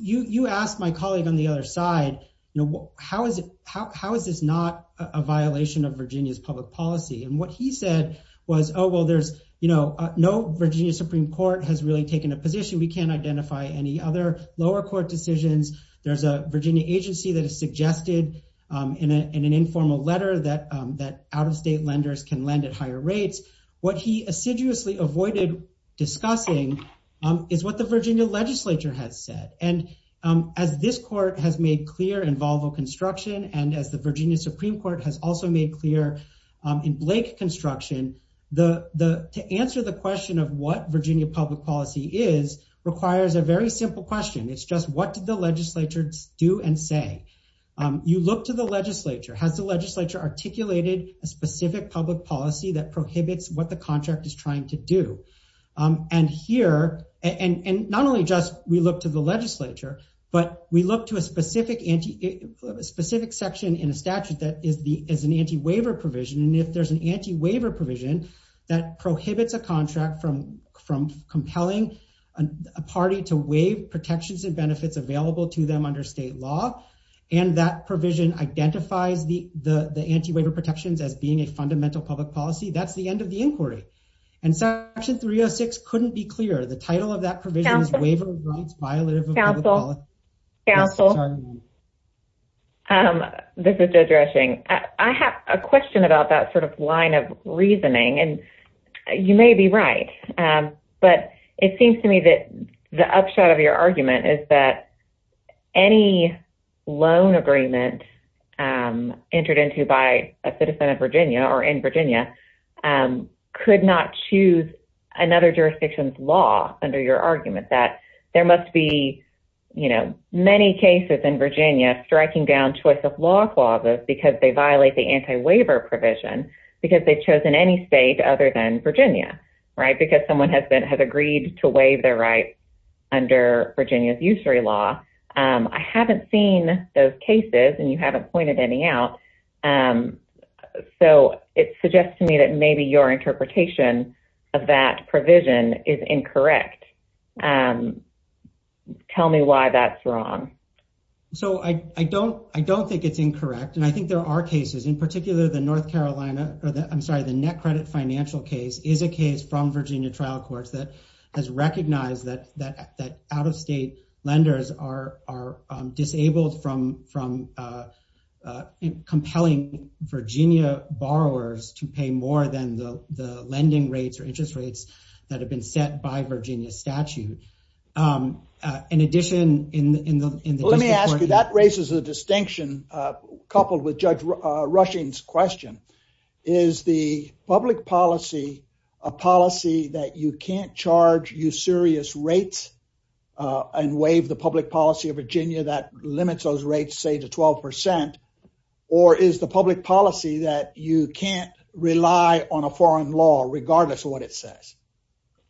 you asked my colleague on the other side, you know, how is it, how is this not a violation of Virginia's public policy? And what he said was, oh, well, there's, you know, no Virginia Supreme Court has really taken a position. We can't identify any other lower court decisions. There's a Virginia agency that has suggested in an informal letter that out-of-state lenders can lend at higher rates. What he assiduously avoided discussing is what the Virginia legislature has said. And as this court has made clear in Volvo Construction and as the Virginia Supreme Court has also made clear in Blake Construction, to answer the question of what Virginia public policy is requires a very simple question. It's just what did the legislature do and say? You look to the legislature. Has the legislature articulated a specific public policy that prohibits what the contract is trying to do? And here, and not only just we look to the legislature, but we look to a specific section in a statute that is an anti-waiver provision. And if there's an anti-waiver provision that prohibits a contract from compelling a party to waive protections and benefits available to them under state law, and that provision identifies the anti-waiver protections as being a fundamental public policy, that's the end of the inquiry. And section 306 couldn't be clearer. The title of that provision is waiver of rights violative of public policy. Council. Council. This is Joe Dresching. I have a question about that sort of line of reasoning. And you may be right, but it seems to me that the upshot of your argument is that any loan agreement entered into by a citizen of Virginia or in Virginia could not choose another jurisdiction's law under your argument that there must be, you know, many cases in Virginia striking down choice of law clauses because they violate the anti-waiver provision because they've chosen any state other than Virginia, right? Because someone has been, to waive their rights under Virginia's usury law. I haven't seen those cases and you haven't pointed any out. So it suggests to me that maybe your interpretation of that provision is incorrect. Tell me why that's wrong. So I don't, I don't think it's incorrect. And I think there are cases in particular, the North Carolina or the, I'm sorry, the net credit financial case is a case from Virginia trial courts that has recognized that, that, that out-of-state lenders are disabled from, from compelling Virginia borrowers to pay more than the lending rates or interest rates that have been set by Virginia statute. In addition, in the, in the, let me ask you, that raises a distinction coupled with Judge Rushing's question. Is the public policy a policy that you can't charge usurious rates and waive the public policy of Virginia that limits those rates, say to 12%, or is the public policy that you can't rely on a foreign law, regardless of what it says?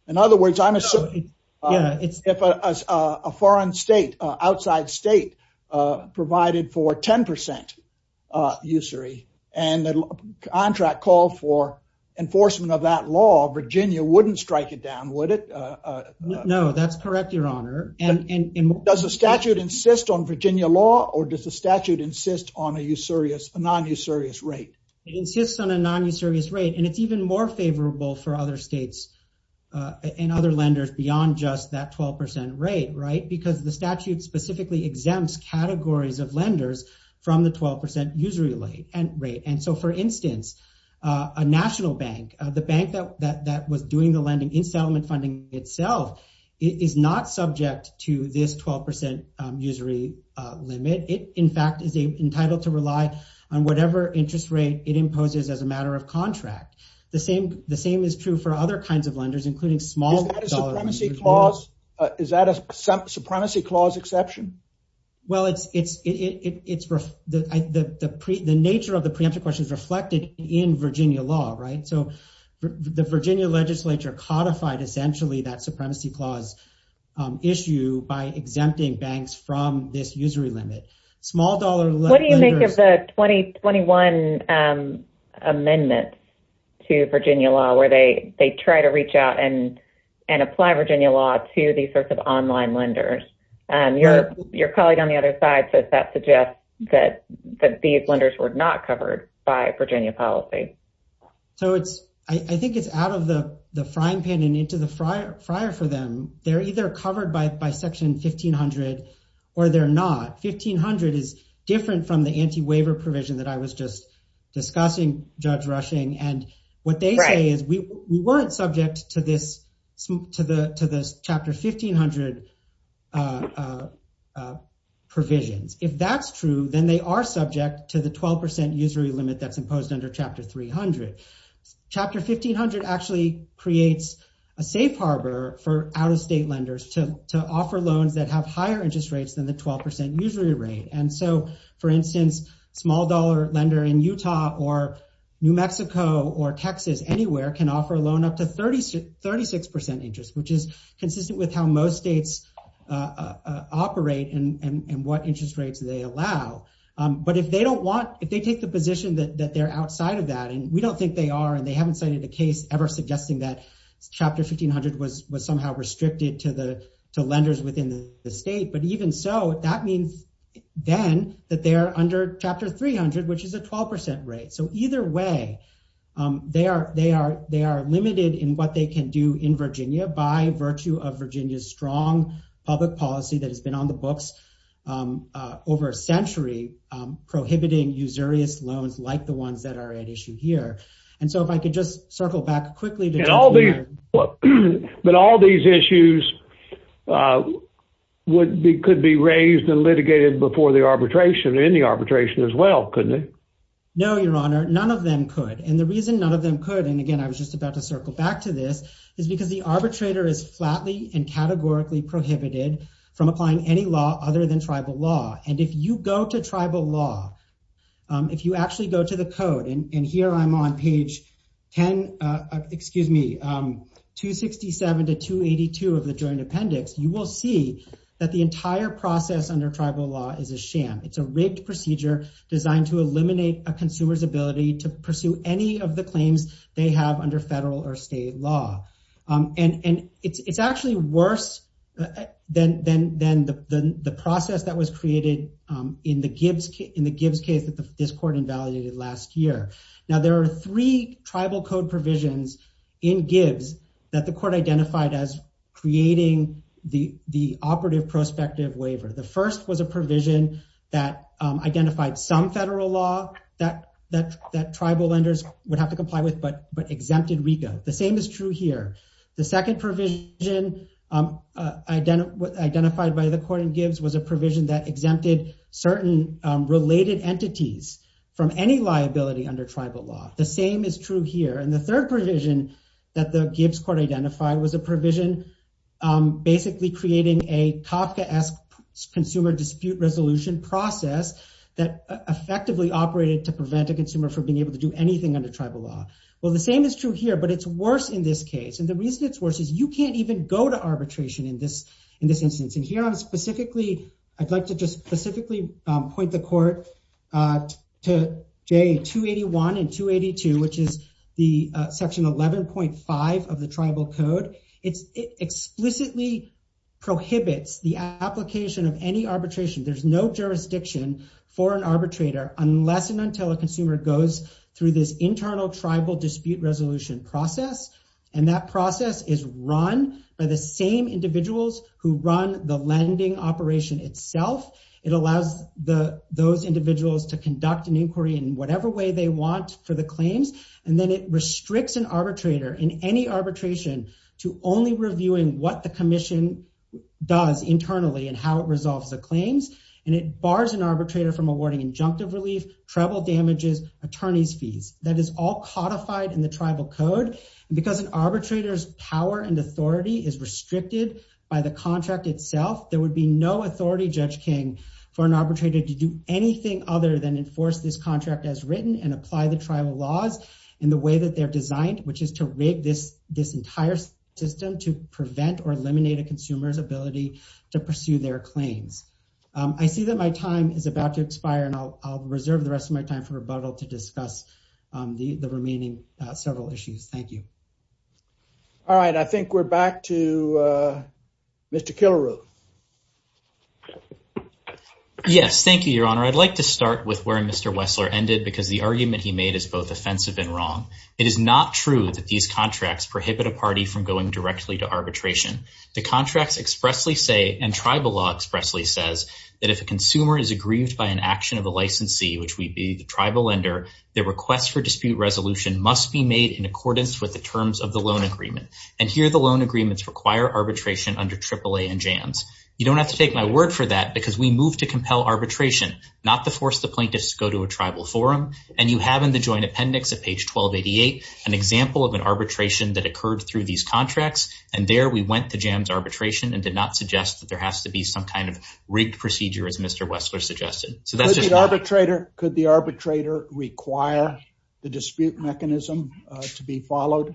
In other words, I'm assuming if a foreign state, outside state, provided for 10% usury and the contract called for enforcement of that law, Virginia wouldn't strike it down, would it? No, that's correct, your honor. And, and, and does the statute insist on Virginia law or does the statute insist on a usurious, a non-usurious rate? It insists on a non-usurious rate and it's even more favorable for other states and other lenders beyond just that 12% rate, right? Because the statute specifically exempts categories of lenders from the 12% usury rate. And so for instance, a national bank, the bank that, that, that was doing the lending installment funding itself is not subject to this 12% usury limit. It in fact is entitled to rely on whatever interest rate it imposes as a matter of contract. The same, the same is true for other kinds of lenders, including small- Is that a supremacy clause exception? Well, it's, it's, it, it, it's the, I, the, the pre, the nature of the preemptive question is reflected in Virginia law, right? So the Virginia legislature codified essentially that supremacy clause issue by exempting banks from this usury limit. Small dollar lenders- What do you make of the 2021 amendments to Virginia law where they, they try to reach out and, and apply Virginia law to these sorts of online lenders? Your, your colleague on the other side says that suggests that, that these lenders were not covered by Virginia policy. So it's, I think it's out of the frying pan and into the fryer, fryer for them. They're either covered by, by section 1500 or they're not. 1500 is different from the anti-waiver provision that I was just discussing, Judge Rushing. And what they say is we weren't subject to this, to the, to this chapter 1500 provisions. If that's true, then they are subject to the 12% usury limit that's imposed under chapter 300. Chapter 1500 actually creates a safe harbor for out-of-state lenders to, to offer loans that have higher interest rates than the 12% usury rate. And so for instance, small dollar lender in Utah or New Mexico or Texas, anywhere can offer a loan up to 36, 36% interest, which is consistent with how most states operate and, and what interest rates they allow. But if they don't want, if they take the position that they're outside of that, and we don't think they are, and they haven't cited a case ever suggesting that chapter 1500 was, was that they are under chapter 300, which is a 12% rate. So either way, they are, they are, they are limited in what they can do in Virginia by virtue of Virginia's strong public policy that has been on the books over a century prohibiting usurious loans like the ones that are at issue here. And so if I could just circle back quickly. But all these issues would be, could be raised and arbitration in the arbitration as well, couldn't it? No, your honor, none of them could. And the reason none of them could, and again, I was just about to circle back to this, is because the arbitrator is flatly and categorically prohibited from applying any law other than tribal law. And if you go to tribal law, if you actually go to the code, and here I'm on page 10, excuse me, 267 to 282 of the joint appendix, you will see that the entire process under tribal law is a sham. It's a rigged procedure designed to eliminate a consumer's ability to pursue any of the claims they have under federal or state law. And it's actually worse than the process that was created in the Gibbs case that this court invalidated last year. Now there are three tribal code provisions in Gibbs that the court identified as creating the operative prospective waiver. The first was a provision that identified some federal law that tribal lenders would have to comply with, but exempted RICO. The same is true here. The second provision identified by the court in Gibbs was a provision that exempted certain related entities from any liability under tribal law. The same is true here. And the third provision that the Gibbs court identified was a provision basically creating a Kafka-esque consumer dispute resolution process that effectively operated to prevent a consumer from being able to do anything under tribal law. Well, the same is true here, but it's worse in this case. And the reason it's worse is you can't even go to arbitration in this instance. And here I'm specifically, I'd like to just specifically point the court to J281 and 282, which is the section 11.5 of the tribal code. It explicitly prohibits the application of any arbitration. There's no jurisdiction for an arbitrator unless and until a consumer goes through this internal tribal dispute resolution process. And that process is run by the same individuals who run the lending operation itself. It allows those individuals to conduct an inquiry in whatever way they want for the claims. And then it restricts an arbitrator in any arbitration to only reviewing what the commission does internally and how it resolves the claims. And it bars an arbitrator from awarding injunctive relief, treble damages, attorney's fees. That is all codified in the tribal code. And because an arbitrator's power and authority is restricted by the contract itself, there would be no authority, Judge King, for an arbitrator to do anything other than enforce this contract as written and apply the tribal laws in the way that they're designed, which is to rig this entire system to prevent or eliminate a consumer's ability to pursue their claims. I see that my time is about to expire, and I'll reserve the rest of my time for rebuttal to discuss the remaining several issues. Thank you. All right. I think we're back to Mr. Killaroo. Yes. Thank you, Your Honor. I'd like to start with where Mr. Wessler ended because the argument he made is both offensive and wrong. It is not true that these contracts prohibit a party from going directly to arbitration. The contracts expressly say, and tribal law expressly says, that if a consumer is aggrieved by an action of the licensee, which would be the tribal lender, the request for dispute resolution must be made in accordance with the terms of the loan agreement. And here, the loan agreements require arbitration under AAA and JAMS. You don't have to take my word for that because we move to compel arbitration, not to force the plaintiffs to go to a tribal forum. And you have in the Joint Appendix at page 1288 an example of an arbitration that occurred through these contracts. And there, we went to JAMS arbitration and did not suggest that there has to be some kind of rigged procedure, as Mr. Wessler suggested. So that's just not- Could the arbitrator require the dispute mechanism to be followed?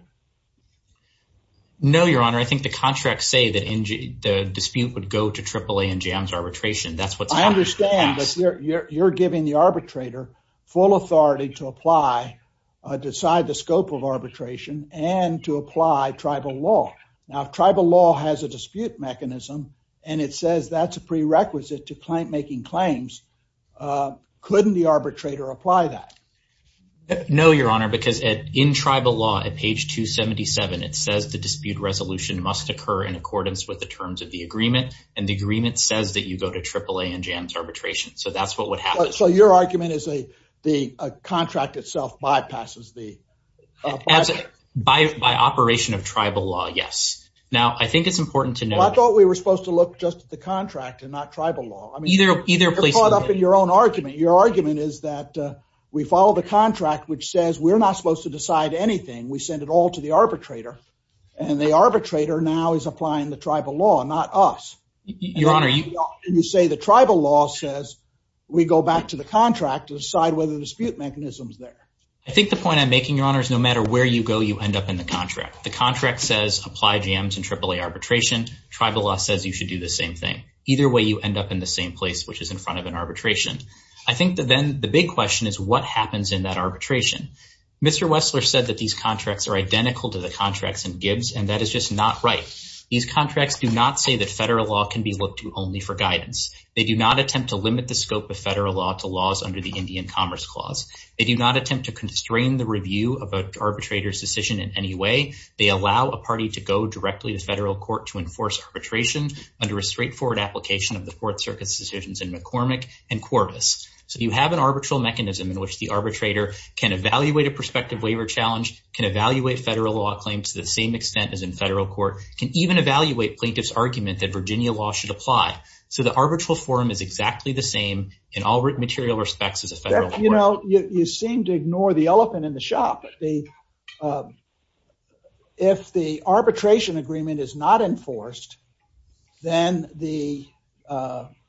No, Your Honor. I think the contracts say that the dispute would go to AAA and JAMS arbitration. That's what's- I understand, but you're giving the arbitrator full authority to apply, decide the scope of arbitration and to apply tribal law. Now, if tribal law has a dispute mechanism and it says that's a prerequisite to making claims, couldn't the arbitrator apply that? No, Your Honor, because in tribal law at page 277, it says the dispute resolution must occur in accordance with the terms of the agreement. And the agreement says that you go to AAA and JAMS arbitration. So that's what would happen. So your argument is the contract itself bypasses the- By operation of tribal law, yes. Now, I think it's important to know- Well, I thought we were supposed to look just at the contract and not tribal law. Either place- You're caught up in your own argument. Your argument is that we follow the contract, which says we're not supposed to decide anything. We send it all to the arbitrator. And the arbitrator now is applying the tribal law, not us. Your Honor, you- And you say the tribal law says we go back to the contract to decide whether the dispute mechanism's there. I think the point I'm making, Your Honor, is no matter where you go, you end up in the contract. The contract says apply JAMS and AAA arbitration. Tribal law says you should do the same thing. Either way, you end up in the same place, which is in front of an arbitration. I think that then the big question is what happens in that arbitration? Mr. Wessler said that these contracts are identical to the contracts in Gibbs, and that is just not right. These contracts do not say that federal law can be looked to only for guidance. They do not attempt to limit the scope of federal law to laws under the Indian Commerce Clause. They do not attempt to constrain the review of an arbitrator's decision in any way. They allow a party to go directly to federal court to enforce arbitration under a straightforward application of the Fourth Circuit's decisions in McCormick and Corbis. So you have an arbitral mechanism in which the arbitrator can evaluate a prospective waiver challenge, can evaluate federal law claim to the same extent as in federal court, can even evaluate plaintiff's argument that Virginia law should apply. So the arbitral forum is exactly the same in all material respects as a federal court. You know, you seem to ignore the elephant in the shop. If the arbitration agreement is not enforced, then the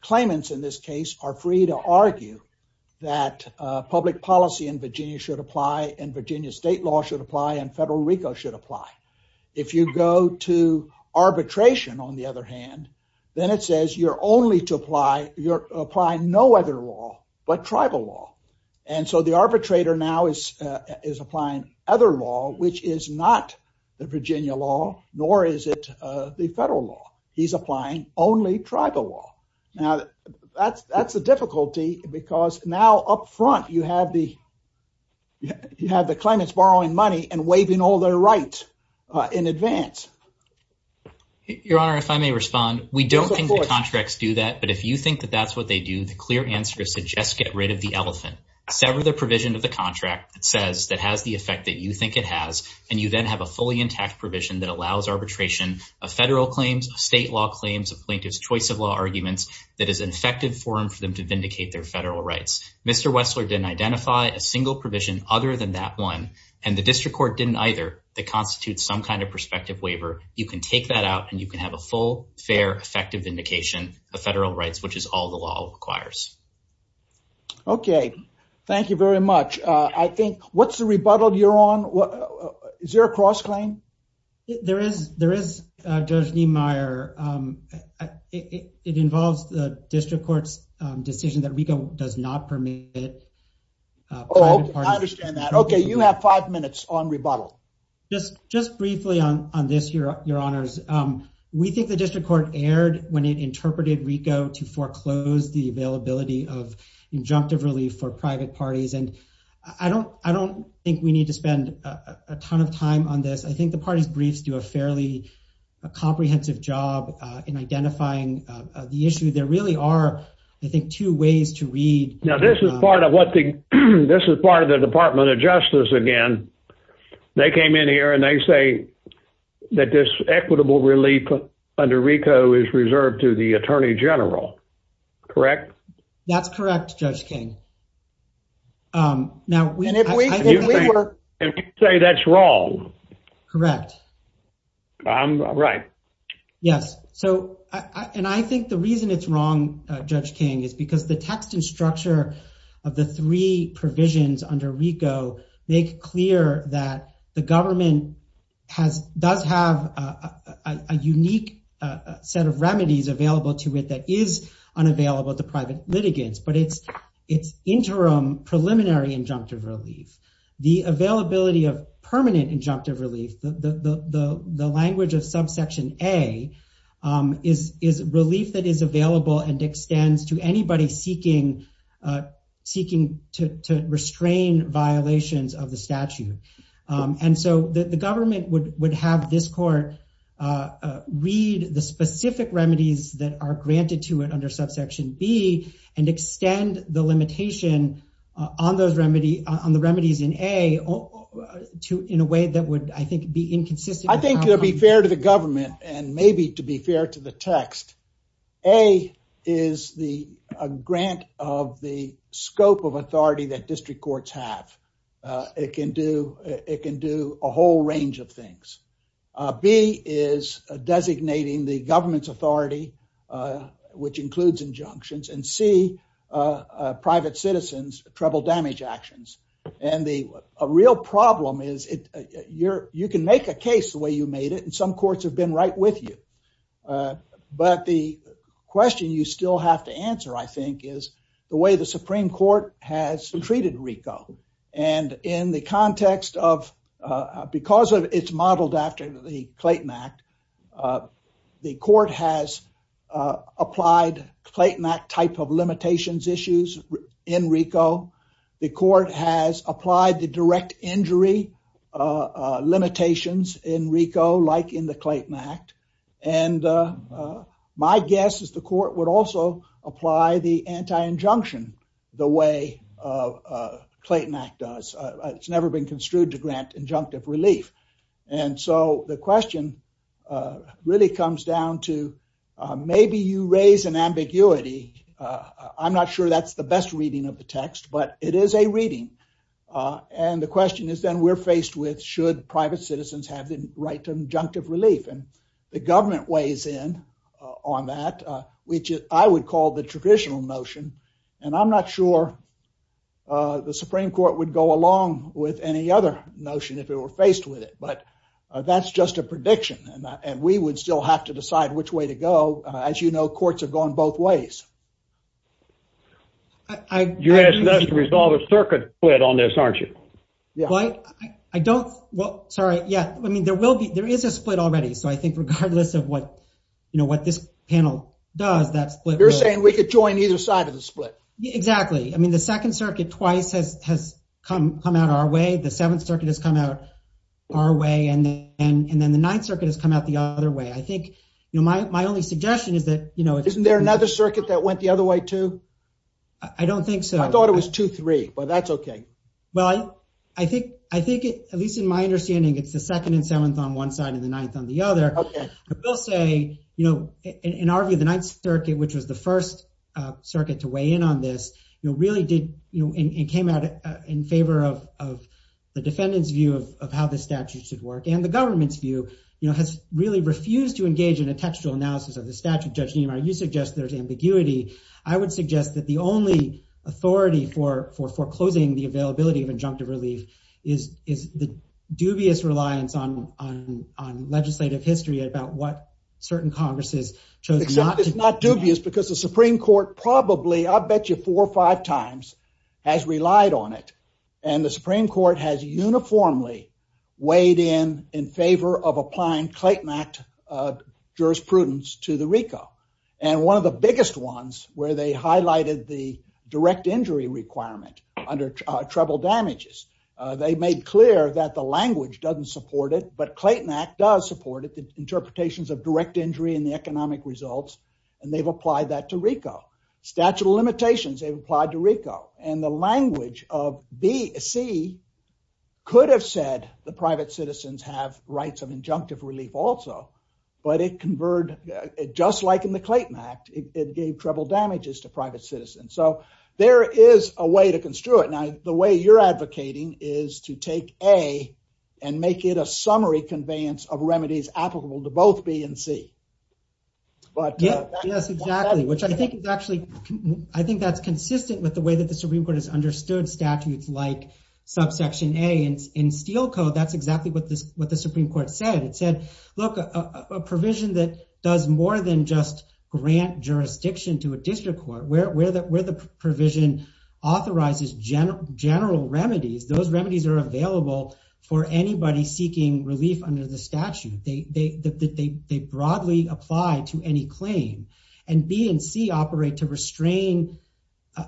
claimants in this case are free to argue that public policy in Virginia should apply, and Virginia state law should apply, and federal RICO should apply. If you go to arbitration, on the other hand, then it says you're only to apply, you're applying no other law but tribal law. And so the arbitrator now is applying other law, which is not the Virginia law, nor is it the federal law. He's applying only tribal law. Now that's a difficulty because now up front you have the claimants borrowing money and waiving all their right in advance. Your honor, if I may respond, we don't think the contracts do that, but if you think that that's what they do, the clear answer is to just get rid of the elephant. Sever the provision of the contract that says that has the effect that you think it has, and you then have a fully intact provision that allows arbitration of federal claims, of state law claims, of plaintiff's choice of law arguments that is an effective forum for them to vindicate their federal rights. Mr. Wessler didn't identify a single provision other than that one, and the district court didn't either that constitutes some kind of prospective waiver. You can take that out and you can have a full, fair, effective vindication of federal rights, which is all the law requires. Okay, thank you very much. I think, what's the rebuttal you're on? Is there a cross claim? There is, there is, Judge Niemeyer. It involves the district court's decision that RICO does not permit private parties. Oh, I understand that. Okay, you have five minutes on rebuttal. Just briefly on this, your honors, we think the district court erred when it interpreted RICO to foreclose the availability of injunctive relief for private parties, and I don't think we need to spend a ton of time on this. I think the party's briefs do a fairly comprehensive job in identifying the issue. There really are, I think, two ways to read. Now, this is part of the Department of Justice again. They came in here and they say that this equitable relief under RICO is correct. That's correct, Judge King. Now, if you say that's wrong. Correct. Right. Yes, and I think the reason it's wrong, Judge King, is because the text and structure of the three provisions under RICO make clear that the government does have a unique set of remedies available to it that is unavailable to private litigants, but it's interim preliminary injunctive relief. The availability of permanent injunctive relief, the language of subsection A, is relief that is available and extends to anybody seeking to restrain violations of the statute, and so the government would have this court read the specific remedies that are granted to it under subsection B and extend the limitation on the remedies in A in a way that would, I think, be inconsistent. I think it would be fair to the government, and maybe to be fair to the text, A is the grant of the scope of authority that district courts have. It can do a whole range of things. B is designating the government's authority, which includes injunctions, and C, private citizens' treble damage actions, and the real problem is you can make a case the way you made it, and some courts have been right with you, but the question you still have to answer, I think, is the way the Supreme Court has treated RICO, and in the context of, because it's modeled after the Clayton Act, the court has applied Clayton Act type of limitations issues in RICO. The court has applied the direct injury limitations in RICO, like in the Clayton Act, and my guess is the court would also apply the anti-injunction the way Clayton Act does. It's never been really comes down to maybe you raise an ambiguity. I'm not sure that's the best reading of the text, but it is a reading, and the question is then we're faced with should private citizens have the right to injunctive relief, and the government weighs in on that, which I would call the traditional notion, and I'm not sure the Supreme Court would go along with any other notion if we're faced with it, but that's just a prediction, and we would still have to decide which way to go. As you know, courts have gone both ways. You're asking us to resolve a circuit split on this, aren't you? Yeah, well, I don't, well, sorry, yeah, I mean, there will be, there is a split already, so I think regardless of what, you know, what this panel does, that split. You're saying we could join either side of the split. Exactly. I mean, the Second Circuit twice has come out our way. The Third Circuit has come out our way, and then the Ninth Circuit has come out the other way. I think, you know, my only suggestion is that, you know, isn't there another circuit that went the other way too? I don't think so. I thought it was 2-3, but that's okay. Well, I think, at least in my understanding, it's the Second and Seventh on one side and the Ninth on the other. I will say, you know, in our view, the Ninth Circuit, which was the first circuit to weigh in on this, you know, and came out in favor of the defendant's view of how the statute should work and the government's view, you know, has really refused to engage in a textual analysis of the statute. Judge Niemeyer, you suggest there's ambiguity. I would suggest that the only authority for foreclosing the availability of injunctive relief is the dubious reliance on legislative history about what certain Congresses chose not to do. Except it's not dubious because the Supreme Court probably, I bet you four or five times, has relied on it. And the Supreme Court has uniformly weighed in in favor of applying Clayton Act jurisprudence to the RICO. And one of the biggest ones where they highlighted the direct injury requirement under treble damages, they made clear that the language doesn't support it, but Clayton Act does support it, the interpretations of direct they've applied to RICO. And the language of B, C could have said the private citizens have rights of injunctive relief also, but it converged, just like in the Clayton Act, it gave treble damages to private citizens. So there is a way to construe it. Now, the way you're advocating is to take A and make it a summary conveyance of remedies applicable to both B and C. But yes, exactly, which I think is actually, I think that's consistent with the way that the Supreme Court has understood statutes like subsection A. And in Steel Code, that's exactly what the Supreme Court said. It said, look, a provision that does more than just grant jurisdiction to a district court, where the provision authorizes general remedies, those remedies are applied to any claim, and B and C operate to restrain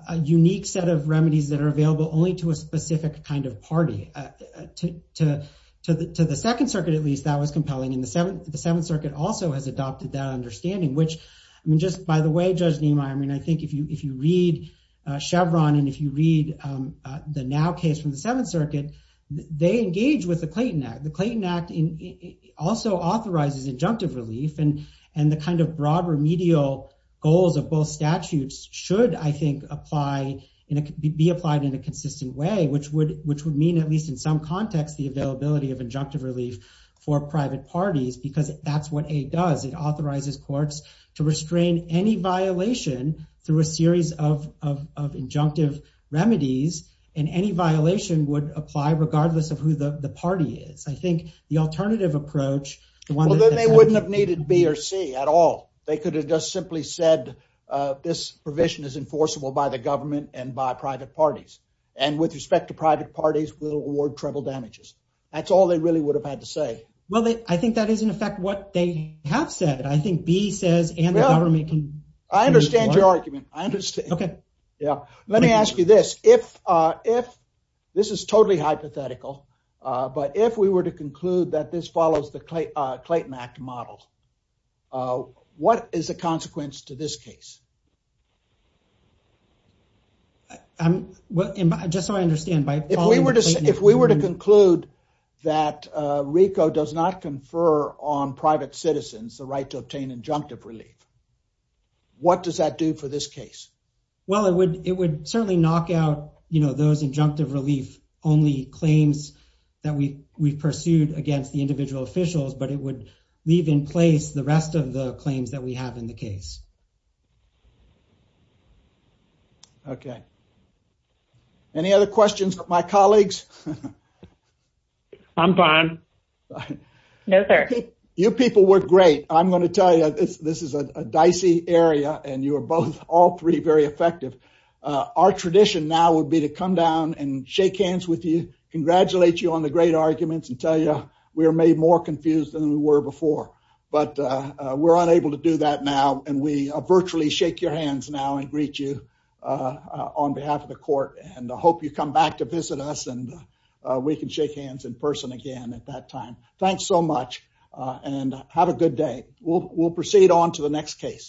a unique set of remedies that are available only to a specific kind of party. To the Second Circuit, at least, that was compelling, and the Seventh Circuit also has adopted that understanding, which, I mean, just by the way, Judge Nimoy, I mean, I think if you read Chevron, and if you read the NOW case from the Seventh Circuit, they engage with the Clayton Act. The Clayton Act also authorizes injunctive relief, and the kind of broad remedial goals of both statutes should, I think, be applied in a consistent way, which would mean, at least in some context, the availability of injunctive relief for private parties, because that's what A does. It authorizes courts to restrain any violation through a series of injunctive remedies, and any violation would apply regardless of who the party is. I think the alternative approach... Well, then they wouldn't have needed B or C at all. They could have just simply said, this provision is enforceable by the government and by private parties, and with respect to private parties, we'll award treble damages. That's all they really would have had to say. Well, I think that is, in effect, what they have said. I think B says, and the government can... I understand your argument. I understand. Okay. Yeah. Let me ask you this. If... This is totally hypothetical, but if we were to conclude that this follows the Clayton Act model, what is the consequence to this case? Well, just so I understand, by following the Clayton Act... If we were to conclude that RICO does not confer on private citizens the right to obtain injunctive relief, what does that do for this case? Well, it would certainly knock out those injunctive relief only claims that we pursued against the individual officials, but it would leave in place the rest of the claims that we have in the case. Okay. Any other questions from my colleagues? I'm fine. No, sir. You people were great. I'm going to tell you, this is a dicey area, and you were both, all three, very effective. Our tradition now would be to come down and shake hands with you, congratulate you on the great arguments, and tell you we are made more confused than we were before, but we're unable to do that now, and we virtually shake your hands now and greet you on behalf of the court, and I hope you come back to visit us, and we can shake hands in person again at that time. Thanks so much, and have a good day. We'll proceed on to the next case.